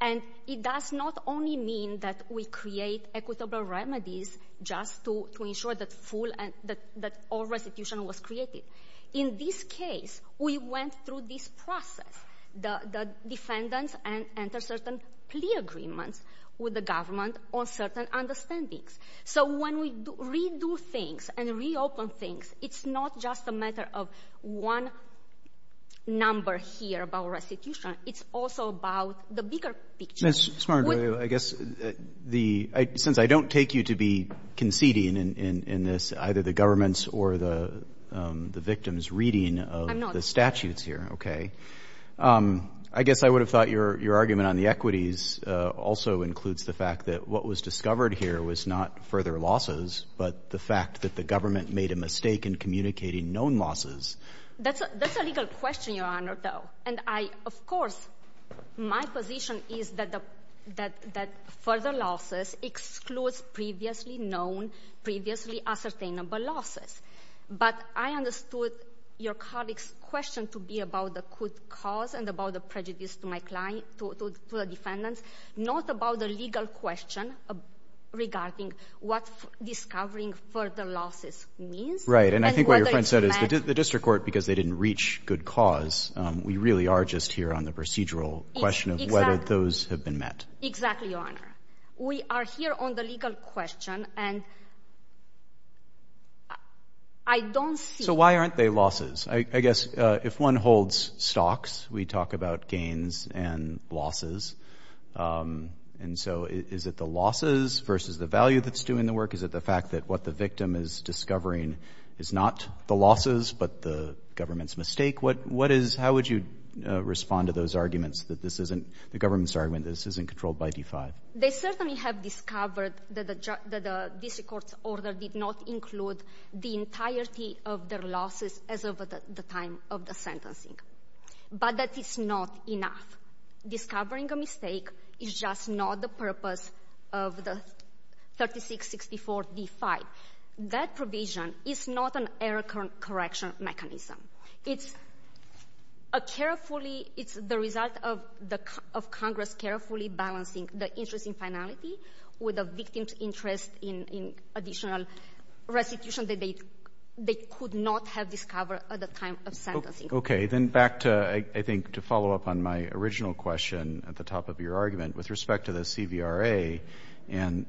and it does not only mean that we create equitable remedies just to ensure that all restitution was created. In this case, we went through this process, the defendants enter certain plea agreements with the government on certain understandings. So when we redo things and reopen things, it's not just a matter of one number here about restitution, it's also about the bigger picture. That's smart. I guess the, since I don't take you to be conceding in this, either the government's or the victim's reading of the statutes here, okay, I guess I would have thought your argument on the equities also includes the fact that what was discovered here was not further losses, but the fact that the government made a mistake in communicating known losses. That's a legal question, your honor, though. And I, of course, my position is that further losses exclude previously known, previously ascertainable losses. But I understood your colleague's to be about the good cause and about the prejudice to my client, to the defendants, not about the legal question regarding what discovering further losses means. Right. And I think what your friend said is the district court, because they didn't reach good cause, we really are just here on the procedural question of whether those have been met. Exactly, your honor. We are here on the legal question and I don't see. Why aren't they losses? I guess if one holds stocks, we talk about gains and losses. And so is it the losses versus the value that's doing the work? Is it the fact that what the victim is discovering is not the losses, but the government's mistake? What is, how would you respond to those arguments that this isn't the government's argument, this isn't controlled by D-5? They certainly have discovered that the district court's order did not include the entirety of their losses as of the time of the sentencing. But that is not enough. Discovering a mistake is just not the purpose of the 3664 D-5. That provision is not an error correction mechanism. It's a carefully, it's the result of Congress carefully balancing the interest in finality with a victim's interest in additional restitution that they could not have discovered at the time of sentencing. Okay, then back to, I think to follow up on my original question at the top of your argument with respect to the CVRA and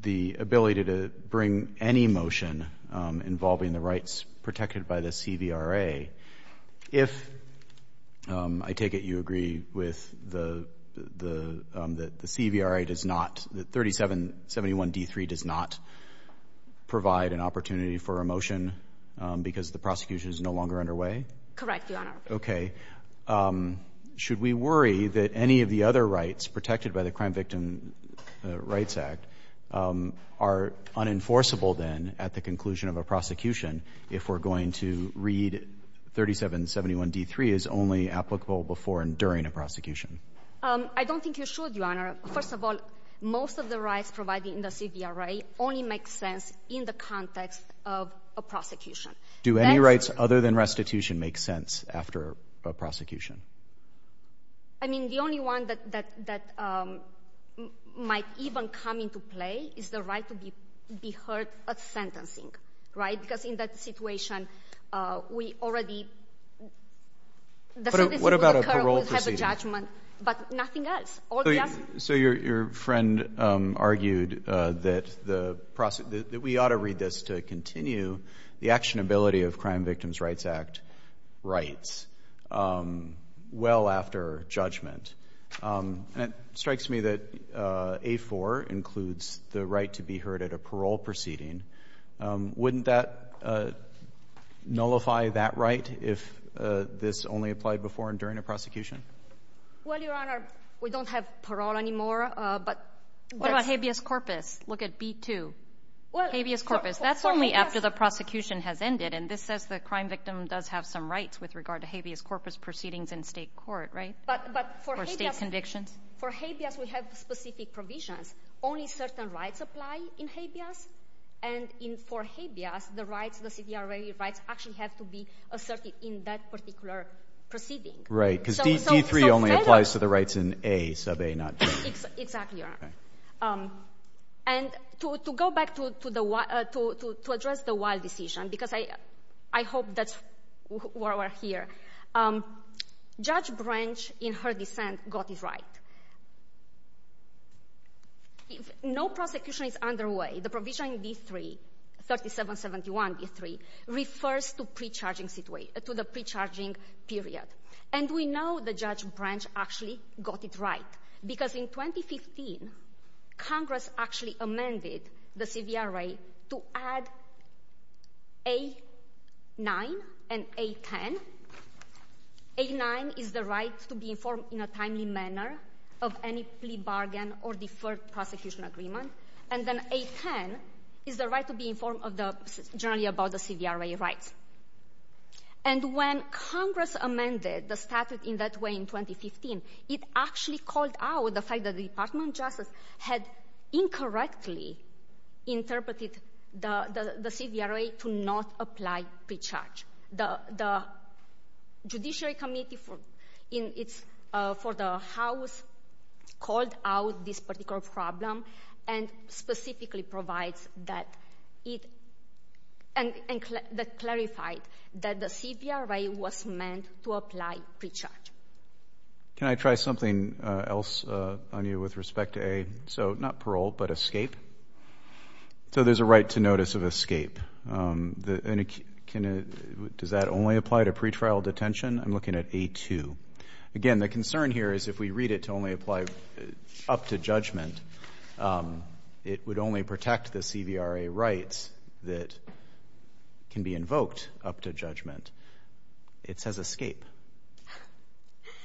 the ability to bring any motion involving the rights protected by the CVRA. If I take it you agree with the the, that the CVRA does not, that 3771 D-3 does not provide an opportunity for a motion because the prosecution is no longer underway? Correct, Your Honor. Okay. Should we worry that any of the other rights protected by the Crime Victim Rights Act are unenforceable then at the conclusion of a prosecution if we're going to read 3771 D-3 as only applicable before and during prosecution? I don't think you should, Your Honor. First of all, most of the rights provided in the CVRA only makes sense in the context of a prosecution. Do any rights other than restitution make sense after a prosecution? I mean the only one that, that, that might even come into play is the right to be heard at sentencing, right? Because in that situation we already, what about a parole procedure? But nothing else. So your friend argued that the process, that we ought to read this to continue the actionability of Crime Victims Rights Act rights well after judgment. That strikes me that A-4 includes the right to be heard at a parole proceeding. Wouldn't that nullify that right if this only applied before and during a prosecution? Well, Your Honor, we don't have parole anymore, but what about habeas corpus? Look at B-2. Habeas corpus, that's only after the prosecution has ended and this says the crime victim does have some rights with regard to habeas corpus proceedings in state court, right? But, but for state conviction? For habeas, we have specific provisions. Only certain rights apply in habeas and in, for habeas, the right, the CVRA rights actually have to be asserted in that particular proceeding. Right, because B-3 only applies to the rights in A, sub A, not B. Exactly, Your Honor. And to, to go back to, to the, to, to, to address the Weil decision, because I, I hope that's why we're here. Judge Branch, in her defense, got it right. No prosecution is underway. The provision in B-3, 3771 B-3, refers to pre-charging situation, to the pre-charging period. And we know the judge Branch actually got it right because in 2015, Congress actually amended the CVRA to add A-9 and A-10. A-9 is the right to be informed in a timely manner of any plea bargain or deferred prosecution agreement. And then A-10 is the right to be informed of the, generally about the CVRA rights. And when Congress amended the statute in that way in 2015, it actually called out the fact that the Department of Justice had incorrectly interpreted the, the, the CVRA to not apply pre-charge. The, the Judiciary Committee in its, for the House called out this particular problem and specifically provides that it, and, and that clarified that the CVRA was meant to apply pre-charge. Can I try something else on you with respect to A? So not parole, but escape. So there's a right to notice of escape. Does that only apply to pretrial detention? I'm looking at A-2. Again, the concern here is if we read it to only apply up to judgment, it would only protect the CVRA rights that can be invoked up to judgment. It says escape.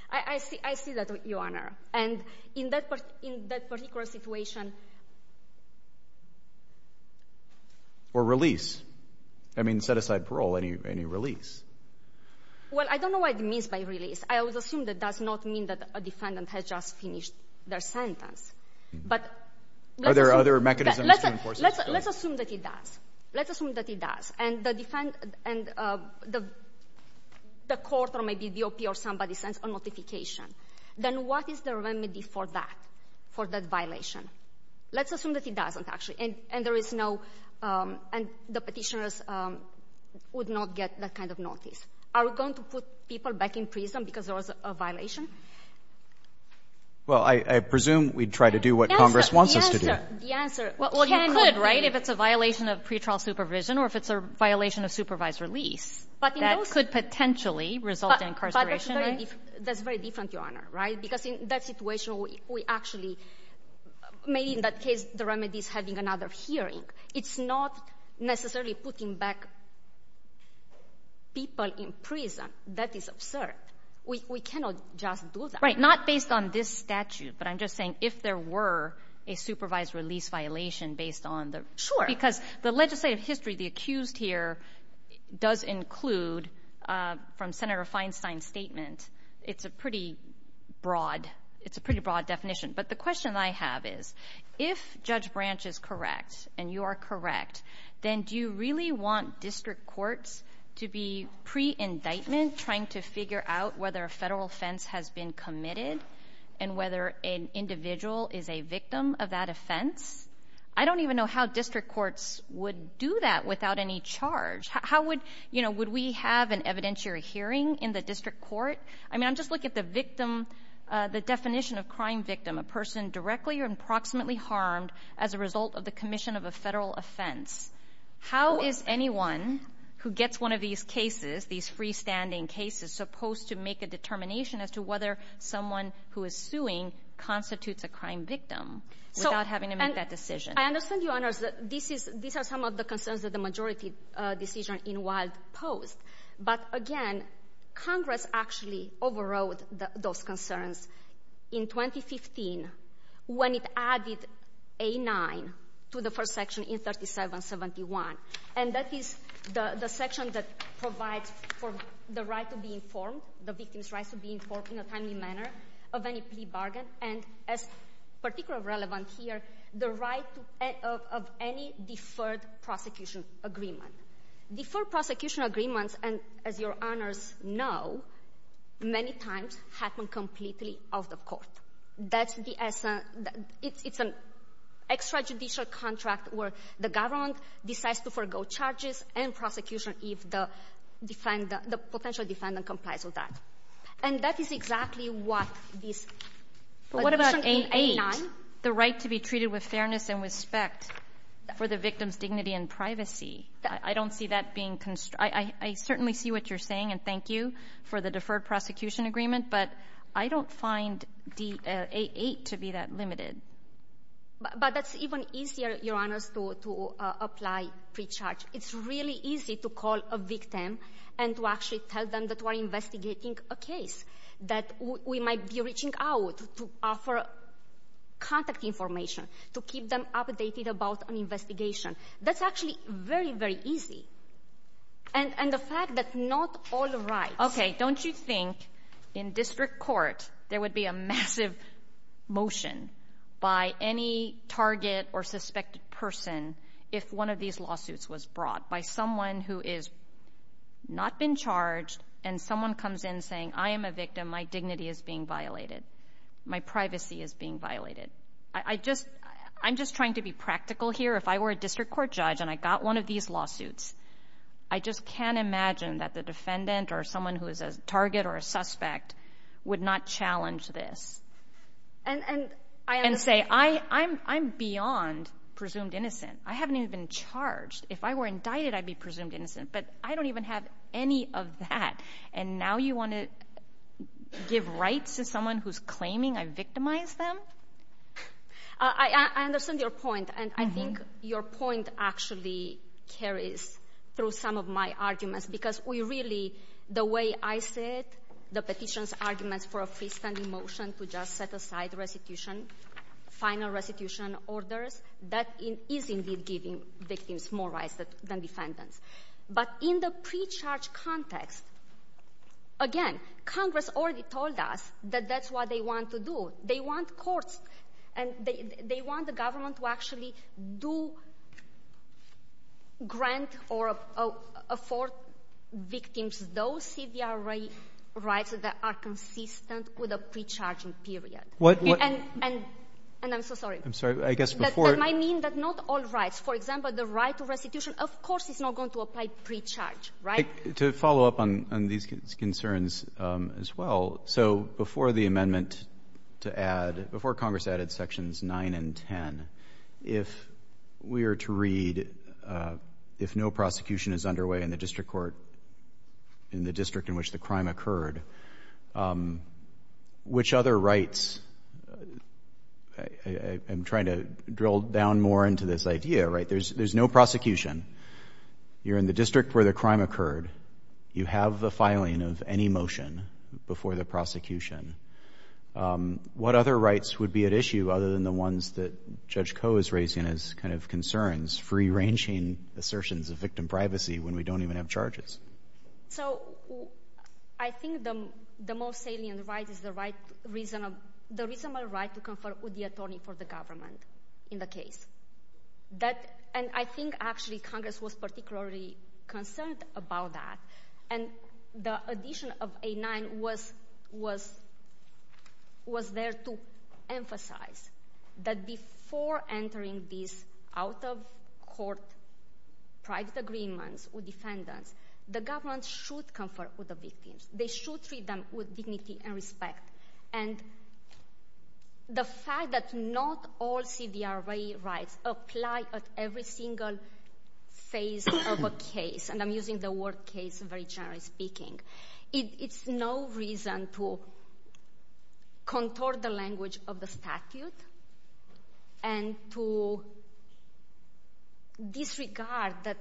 I, I see, I see that, Your Honor. And in that, in that particular situation. Or release. I mean, set aside parole, any, any release. Well, I don't know what it means by release. I would assume that that's not mean that a defendant has just finished their sentence, but. Are there other mechanisms to enforce that? Let's assume that he does. Let's assume that he does. And the defense and the, the court or maybe DOP or somebody sends a notification. Then what is the remedy for that, for that violation? Let's assume that he doesn't actually, and there is no, and the petitioners would not get that kind of notice. Are we going to put people back in prison because there was a violation? Well, I, I presume we'd try to do what Congress wants us to do. The answer, the answer. Well, you could, right? If it's a violation of pretrial supervision or if it's a violation of supervised release. But that could potentially result in incarceration. That's very different, Your Honor, right? Because in that situation, we actually, maybe in that case, the remedy is having another hearing. It's not necessarily putting back people in prison. That is absurd. We cannot just do that. Right. Not based on this statute, but I'm just saying if there were a supervised release violation based on the, because the legislative history, the accused here does include from Senator Feinstein's statement, it's a pretty broad, it's a pretty broad definition. But the question I have is if Judge Branch is correct and you are correct, then do you really want district courts to be pre-indictment trying to figure out whether a federal offense has been committed and whether an individual is a victim of that offense? I don't even know how district courts would do that without any charge. How would, you know, would we have an evidentiary hearing in the district court? I mean, I'm just looking at the victim, the definition of crime victim, a person directly or approximately harmed as a result of the commission of a federal offense. How is anyone who gets one of these cases, these freestanding cases, supposed to make a determination as to whether someone who is suing constitutes a crime victim without having to make that decision? I understand, Your Honor, that this is, these are some of the concerns of the majority decision in Wilde's post. But again, Congress actually overrode those concerns in 2015 when it added A9 to the first section in 3771. And that is the section that provides for the right to be informed, the victim's right to be informed in a timely manner of any plea bargain, and as particularly relevant here, the right of any deferred prosecution agreement. Deferred prosecution agreements, and as Your Honors know, many times happen completely off the court. That's the essence, it's an extrajudicial contract where the government decides to forego charges and prosecution if the defendant, the potential defendant complies with that. And that is exactly what this, what about A9? The right to be treated with fairness and respect for the victim's dignity and privacy. I don't see that being, I certainly see what you're saying and thank you for the deferred prosecution agreement, but I don't find the A8 to be that limited. But that's even easier, Your Honor, to apply pre-charge. It's really easy to call a victim and to actually tell them that we're investigating a case, that we might be reaching out to offer contact information, to keep them updated about an investigation. That's actually very, very easy. And the fact that's not all right. Okay, don't you think in district court there would be a massive motion by any target or suspected person if one of these lawsuits was brought by someone who is not been charged and someone comes in saying, I am a victim, my dignity is being violated, my privacy is being violated. I just, I'm just trying to be practical here. If I were a district court judge and I got one of these lawsuits, I just can't imagine that the defendant or someone who is a target or a suspect would not challenge this and say, I'm beyond presumed innocent. I haven't even been charged. If I were indicted, I'd be presumed innocent, but I don't even have any of that. And now you want to give rights to someone who's claiming I victimized them? I understand your point. And I think your point actually carries through some of my arguments, because we really, the way I said, the petition's arguments for a freestanding motion to just set aside restitution, final restitution orders, that is indeed giving victims more rights than defendants. But in the pre-charge context, again, Congress already told us that that's what they want to do. They want courts and they want the government to actually do grant or afford victims those CBR rights that are consistent with a pre-charging period. And I'm so sorry. I'm sorry, I guess before. I mean, that's not all right. For example, the right to restitution, of course, it's not going to apply pre-charge, right? To follow up on these concerns as well. So before the amendment to add, before Congress added sections nine and 10, if we are to read, if no prosecution is underway in the district court, in the district in which the crime occurred, which other rights, I'm trying to drill down more into this idea, right? There's no prosecution. You're in the district where the crime occurred. You have the filing of any motion before the prosecution. What other rights would be at issue other than the ones that Judge Coe is raising as concerns, free-ranging assertions of victim privacy when we don't even have charges? So I think the most salient right is the reasonable right to confer with the attorney for the government in the case. And I think actually Congress was particularly concerned about that. And the addition of A-9 was there to emphasize that before entering this out-of-court private agreement with defendants, the government should confer with the victims. They should treat them with dignity and respect. And the fact that not all CVRA rights apply at every single phase of a case, and I'm using the word case very generally speaking, it's no reason to contour the language of the statute and to disregard that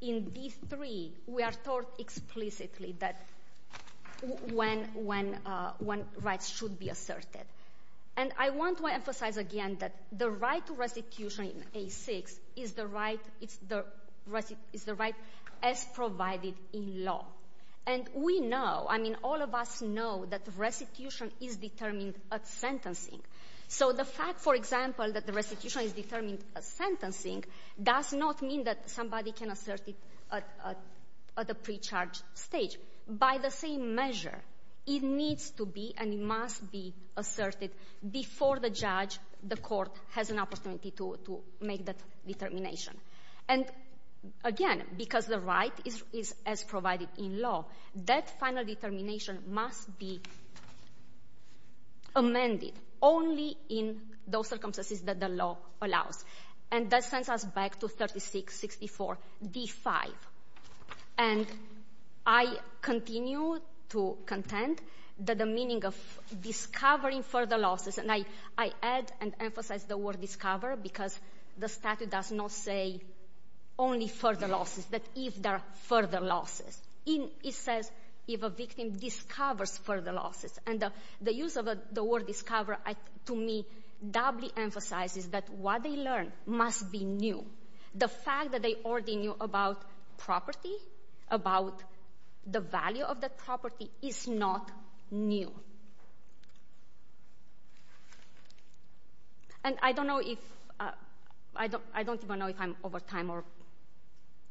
in these three we are taught explicitly that one right should be asserted. And I want to emphasize again that the right to restitution in A-6 is the right as provided in law. And we know, I mean all of us know that restitution is determined at sentencing. So the fact for example that the restitution is determined at sentencing does not mean that somebody can assert it at the pre-charge stage. By the same to make that determination. And again, because the right is as provided in law, that final determination must be amended only in those circumstances that the law allows. And that sends us back to 36-64-D-5. And I continue to contend that the meaning of discovering further losses, and I add and emphasize the word discover because the statute does not say only further losses, but if there are further losses. It says if a victim discovers further losses. And the use of the word discover to me doubly emphasizes that what they learn must be new. The fact that they already knew about property, about the value of the property, is not new. And I don't know if I'm over time or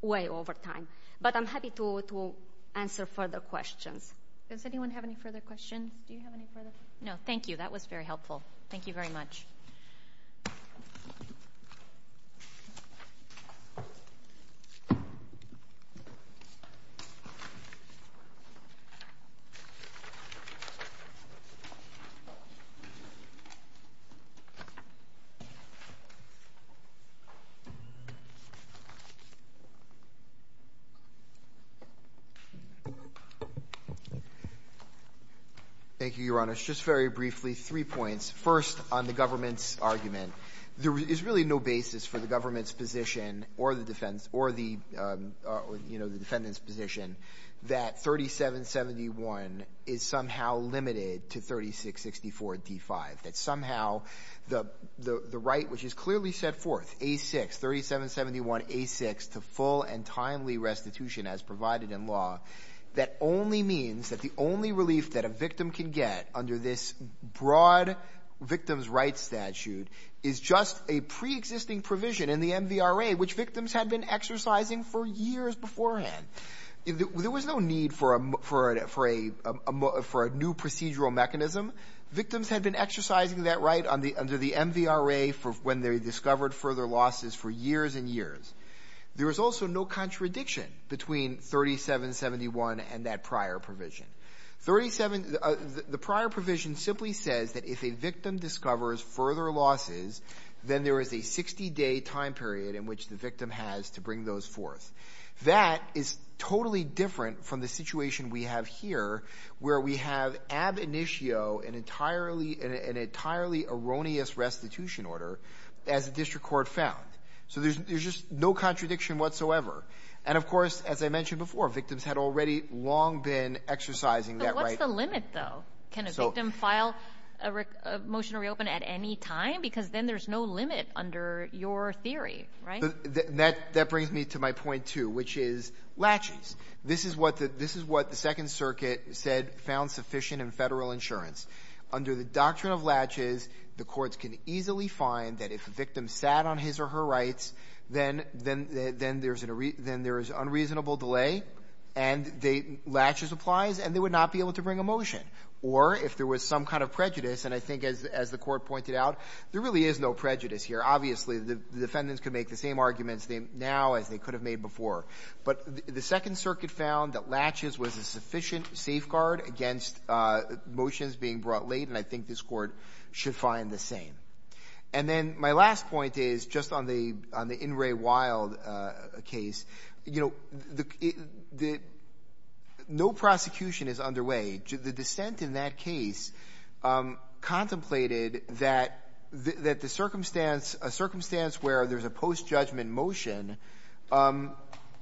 way over time, but I'm happy to answer further questions. Does anyone have any further questions? No, thank you. That was very helpful. Thank you very much. Thank you, Your Honor. Just very briefly, three points. First, on the government's argument. There is really no basis for the government's position or the defendant's position that 37-71-D-5 is somehow limited to 36-64-D-5. That somehow the right which is clearly set forth, A-6, 37-71-A-6, to full and timely restitution as provided in law, that only means that the only relief that a victim can get under this broad victim's rights statute is just a pre-existing provision in the MVRA for a new procedural mechanism. Victims have been exercising that right under the MVRA for when they discovered further losses for years and years. There is also no contradiction between 37-71 and that prior provision. The prior provision simply says that if a victim discovers further losses, then there is a 60-day time period in which the victim has to bring those forth. That is totally different from the situation we have here where we have ab initio an entirely erroneous restitution order as district court found. There is just no contradiction whatsoever. As I mentioned before, victims had already long been exercising that right. What is the limit, though? Can a victim file a motion to reopen at any time? Because then limit under your theory, right? That brings me to my point, too, which is latches. This is what the Second Circuit said found sufficient in federal insurance. Under the doctrine of latches, the courts can easily find that if a victim sat on his or her rights, then there is unreasonable delay, and latches applies, and they would not be able to bring a motion. Or if there was some kind of prejudice, and I think as the court pointed out, there really is no prejudice here. Obviously, the defendants can make the same arguments now as they could have made before. But the Second Circuit found that latches was a sufficient safeguard against motions being brought late, and I think this court should find the same. And then my last point is just on the Ingray-Wilde case. No prosecution is underway. The dissent in that case contemplated that a circumstance where there's a post-judgment motion,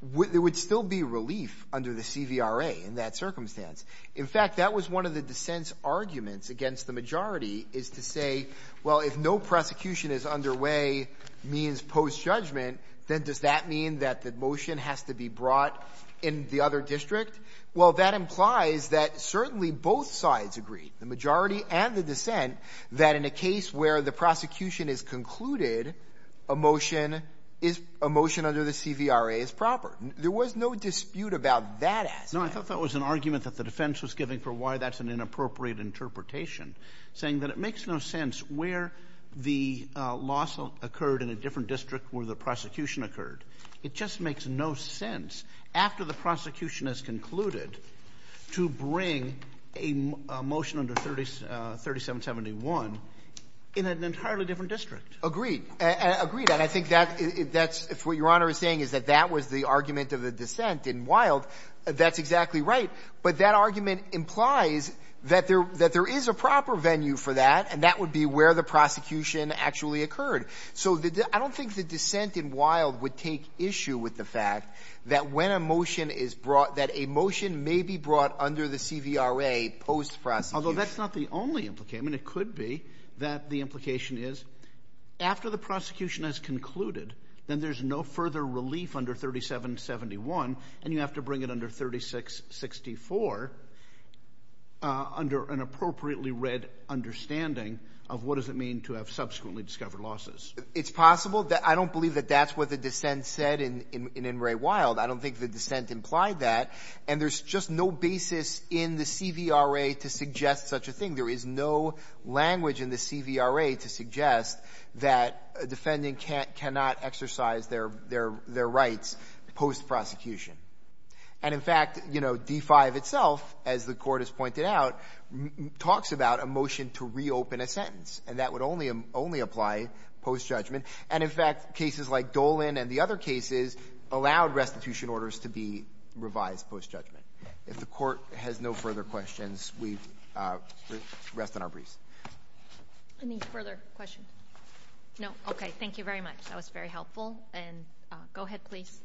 there would still be relief under the CVRA in that circumstance. In fact, that was one of the dissent's arguments against the majority is to say, well, if no prosecution is underway means post-judgment, then does that mean that the motion has to be brought in the other district? Well, that implies that certainly both sides agree, the majority and the dissent, that in a case where the prosecution is concluded, a motion under the CVRA is proper. There was no dispute about that aspect. No, I thought that was an argument that the defense was giving for why that's an inappropriate interpretation, saying that it makes no sense where the loss occurred in a district where the prosecution occurred. It just makes no sense after the prosecution has concluded to bring a motion under 3771 in an entirely different district. Agreed. Agreed. And I think that's what Your Honor is saying is that that was the argument of the dissent in Wilde. That's exactly right. But that argument implies that there is a proper venue for that, and that would be where the prosecution actually occurred. So I don't think the dissent in Wilde would take issue with the fact that when a motion is brought, that a motion may be brought under the CVRA post-prosecution. Although that's not the only implication. It could be that the implication is after the prosecution has concluded, then there's no further relief under 3771, and you have to bring it under 3664 under an appropriately read understanding of what does it mean to have subsequently discovered losses. It's possible that I don't believe that that's what the dissent said in Wray-Wilde. I don't think the dissent implied that. And there's just no basis in the CVRA to suggest such a thing. There is no language in the CVRA to suggest that a motion is brought under the CVRA post-prosecution. And in fact, you know, D-5 itself, as the court has pointed out, talks about a motion to reopen a sentence. And that would only apply post-judgment. And in fact, cases like Dolan and the other cases allowed restitution orders to be revised post-judgment. If the court has no further questions, we rest on our breeze. Any further questions? No? Okay. Thank you very much. That was very helpful. And go ahead, please.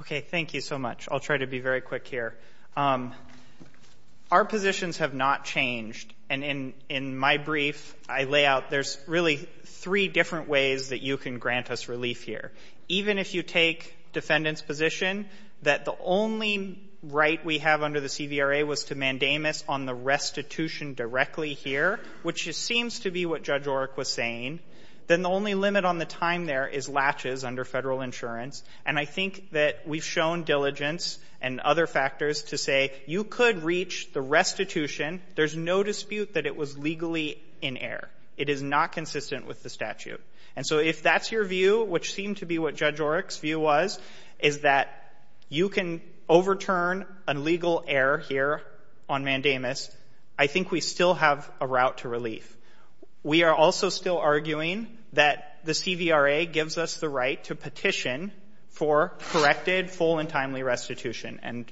Okay. Thank you so much. I'll try to be very quick here. Our positions have not changed. And in my brief, I lay out there's really three different ways that you can grant us relief here. Even if you take defendant's position that the only right we have under the CVRA was to mandamus on the restitution directly here, which seems to be what Judge Oreck was saying, then the only limit on the time there is latches under federal insurance. And I think that we've shown diligence and other factors to say you could reach the restitution. There's no dispute that it was legally in error. It is not consistent with the statute. And so if that's your view, which to be what Judge Oreck's view was, is that you can overturn a legal error here on mandamus, I think we still have a route to relief. We are also still arguing that the CVRA gives us the right to petition for corrected full and timely restitution. And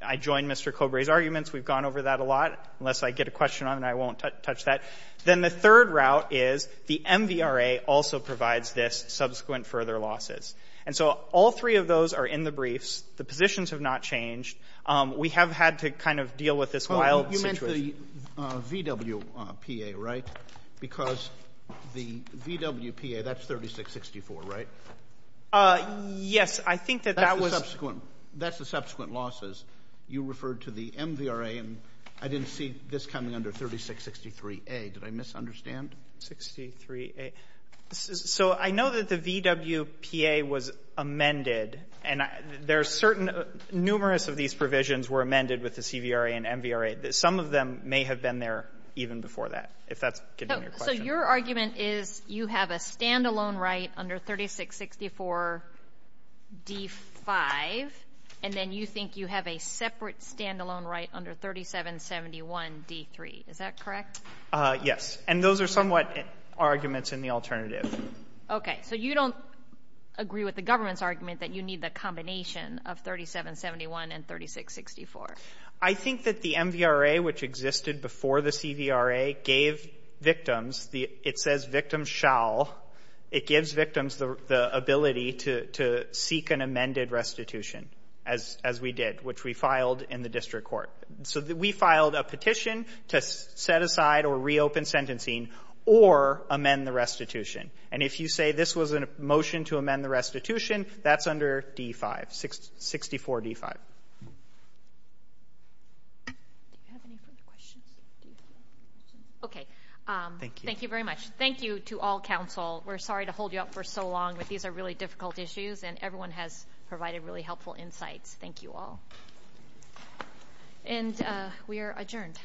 I joined Mr. Cobray's arguments. We've gone over that a lot. Unless I get a question on it, I won't touch that. Then the third route is the MVRA also provides this subsequent further losses. And so all three of those are in the briefs. The positions have not changed. We have had to kind of deal with this wild situation. You mentioned the VWPA, right? Because the VWPA, that's 3664, right? Yes, I think that that was... That's the subsequent losses. You referred to the MVRA, and I didn't see this coming under 3663A. Did I misunderstand? 63A. So I know that the VWPA was amended, and there are certain... Numerous of these provisions were amended with the CVRA and MVRA. Some of them may have been there even before that, if that could be your question. So your argument is you have a standalone right under 3664D5, and then you think you have a separate standalone right under 3771D3. Is that correct? Yes. And those are somewhat arguments in the alternative. Okay. So you don't agree with the government's argument that you need the combination of 3771 and 3664? I think that the MVRA, which existed before the CVRA, gave victims... It says victims shall. It gives victims the ability to seek an amended restitution, as we did, which we filed in the district court. So we filed a petition to set aside or reopen sentencing or amend the restitution. And if you say this was a motion to amend the restitution, that's under D5, 64D5. Okay. Thank you very much. Thank you to all council. We're sorry to hold you up for so long, but these are really difficult issues, and everyone has provided really helpful insights. Thank you all. And we are adjourned.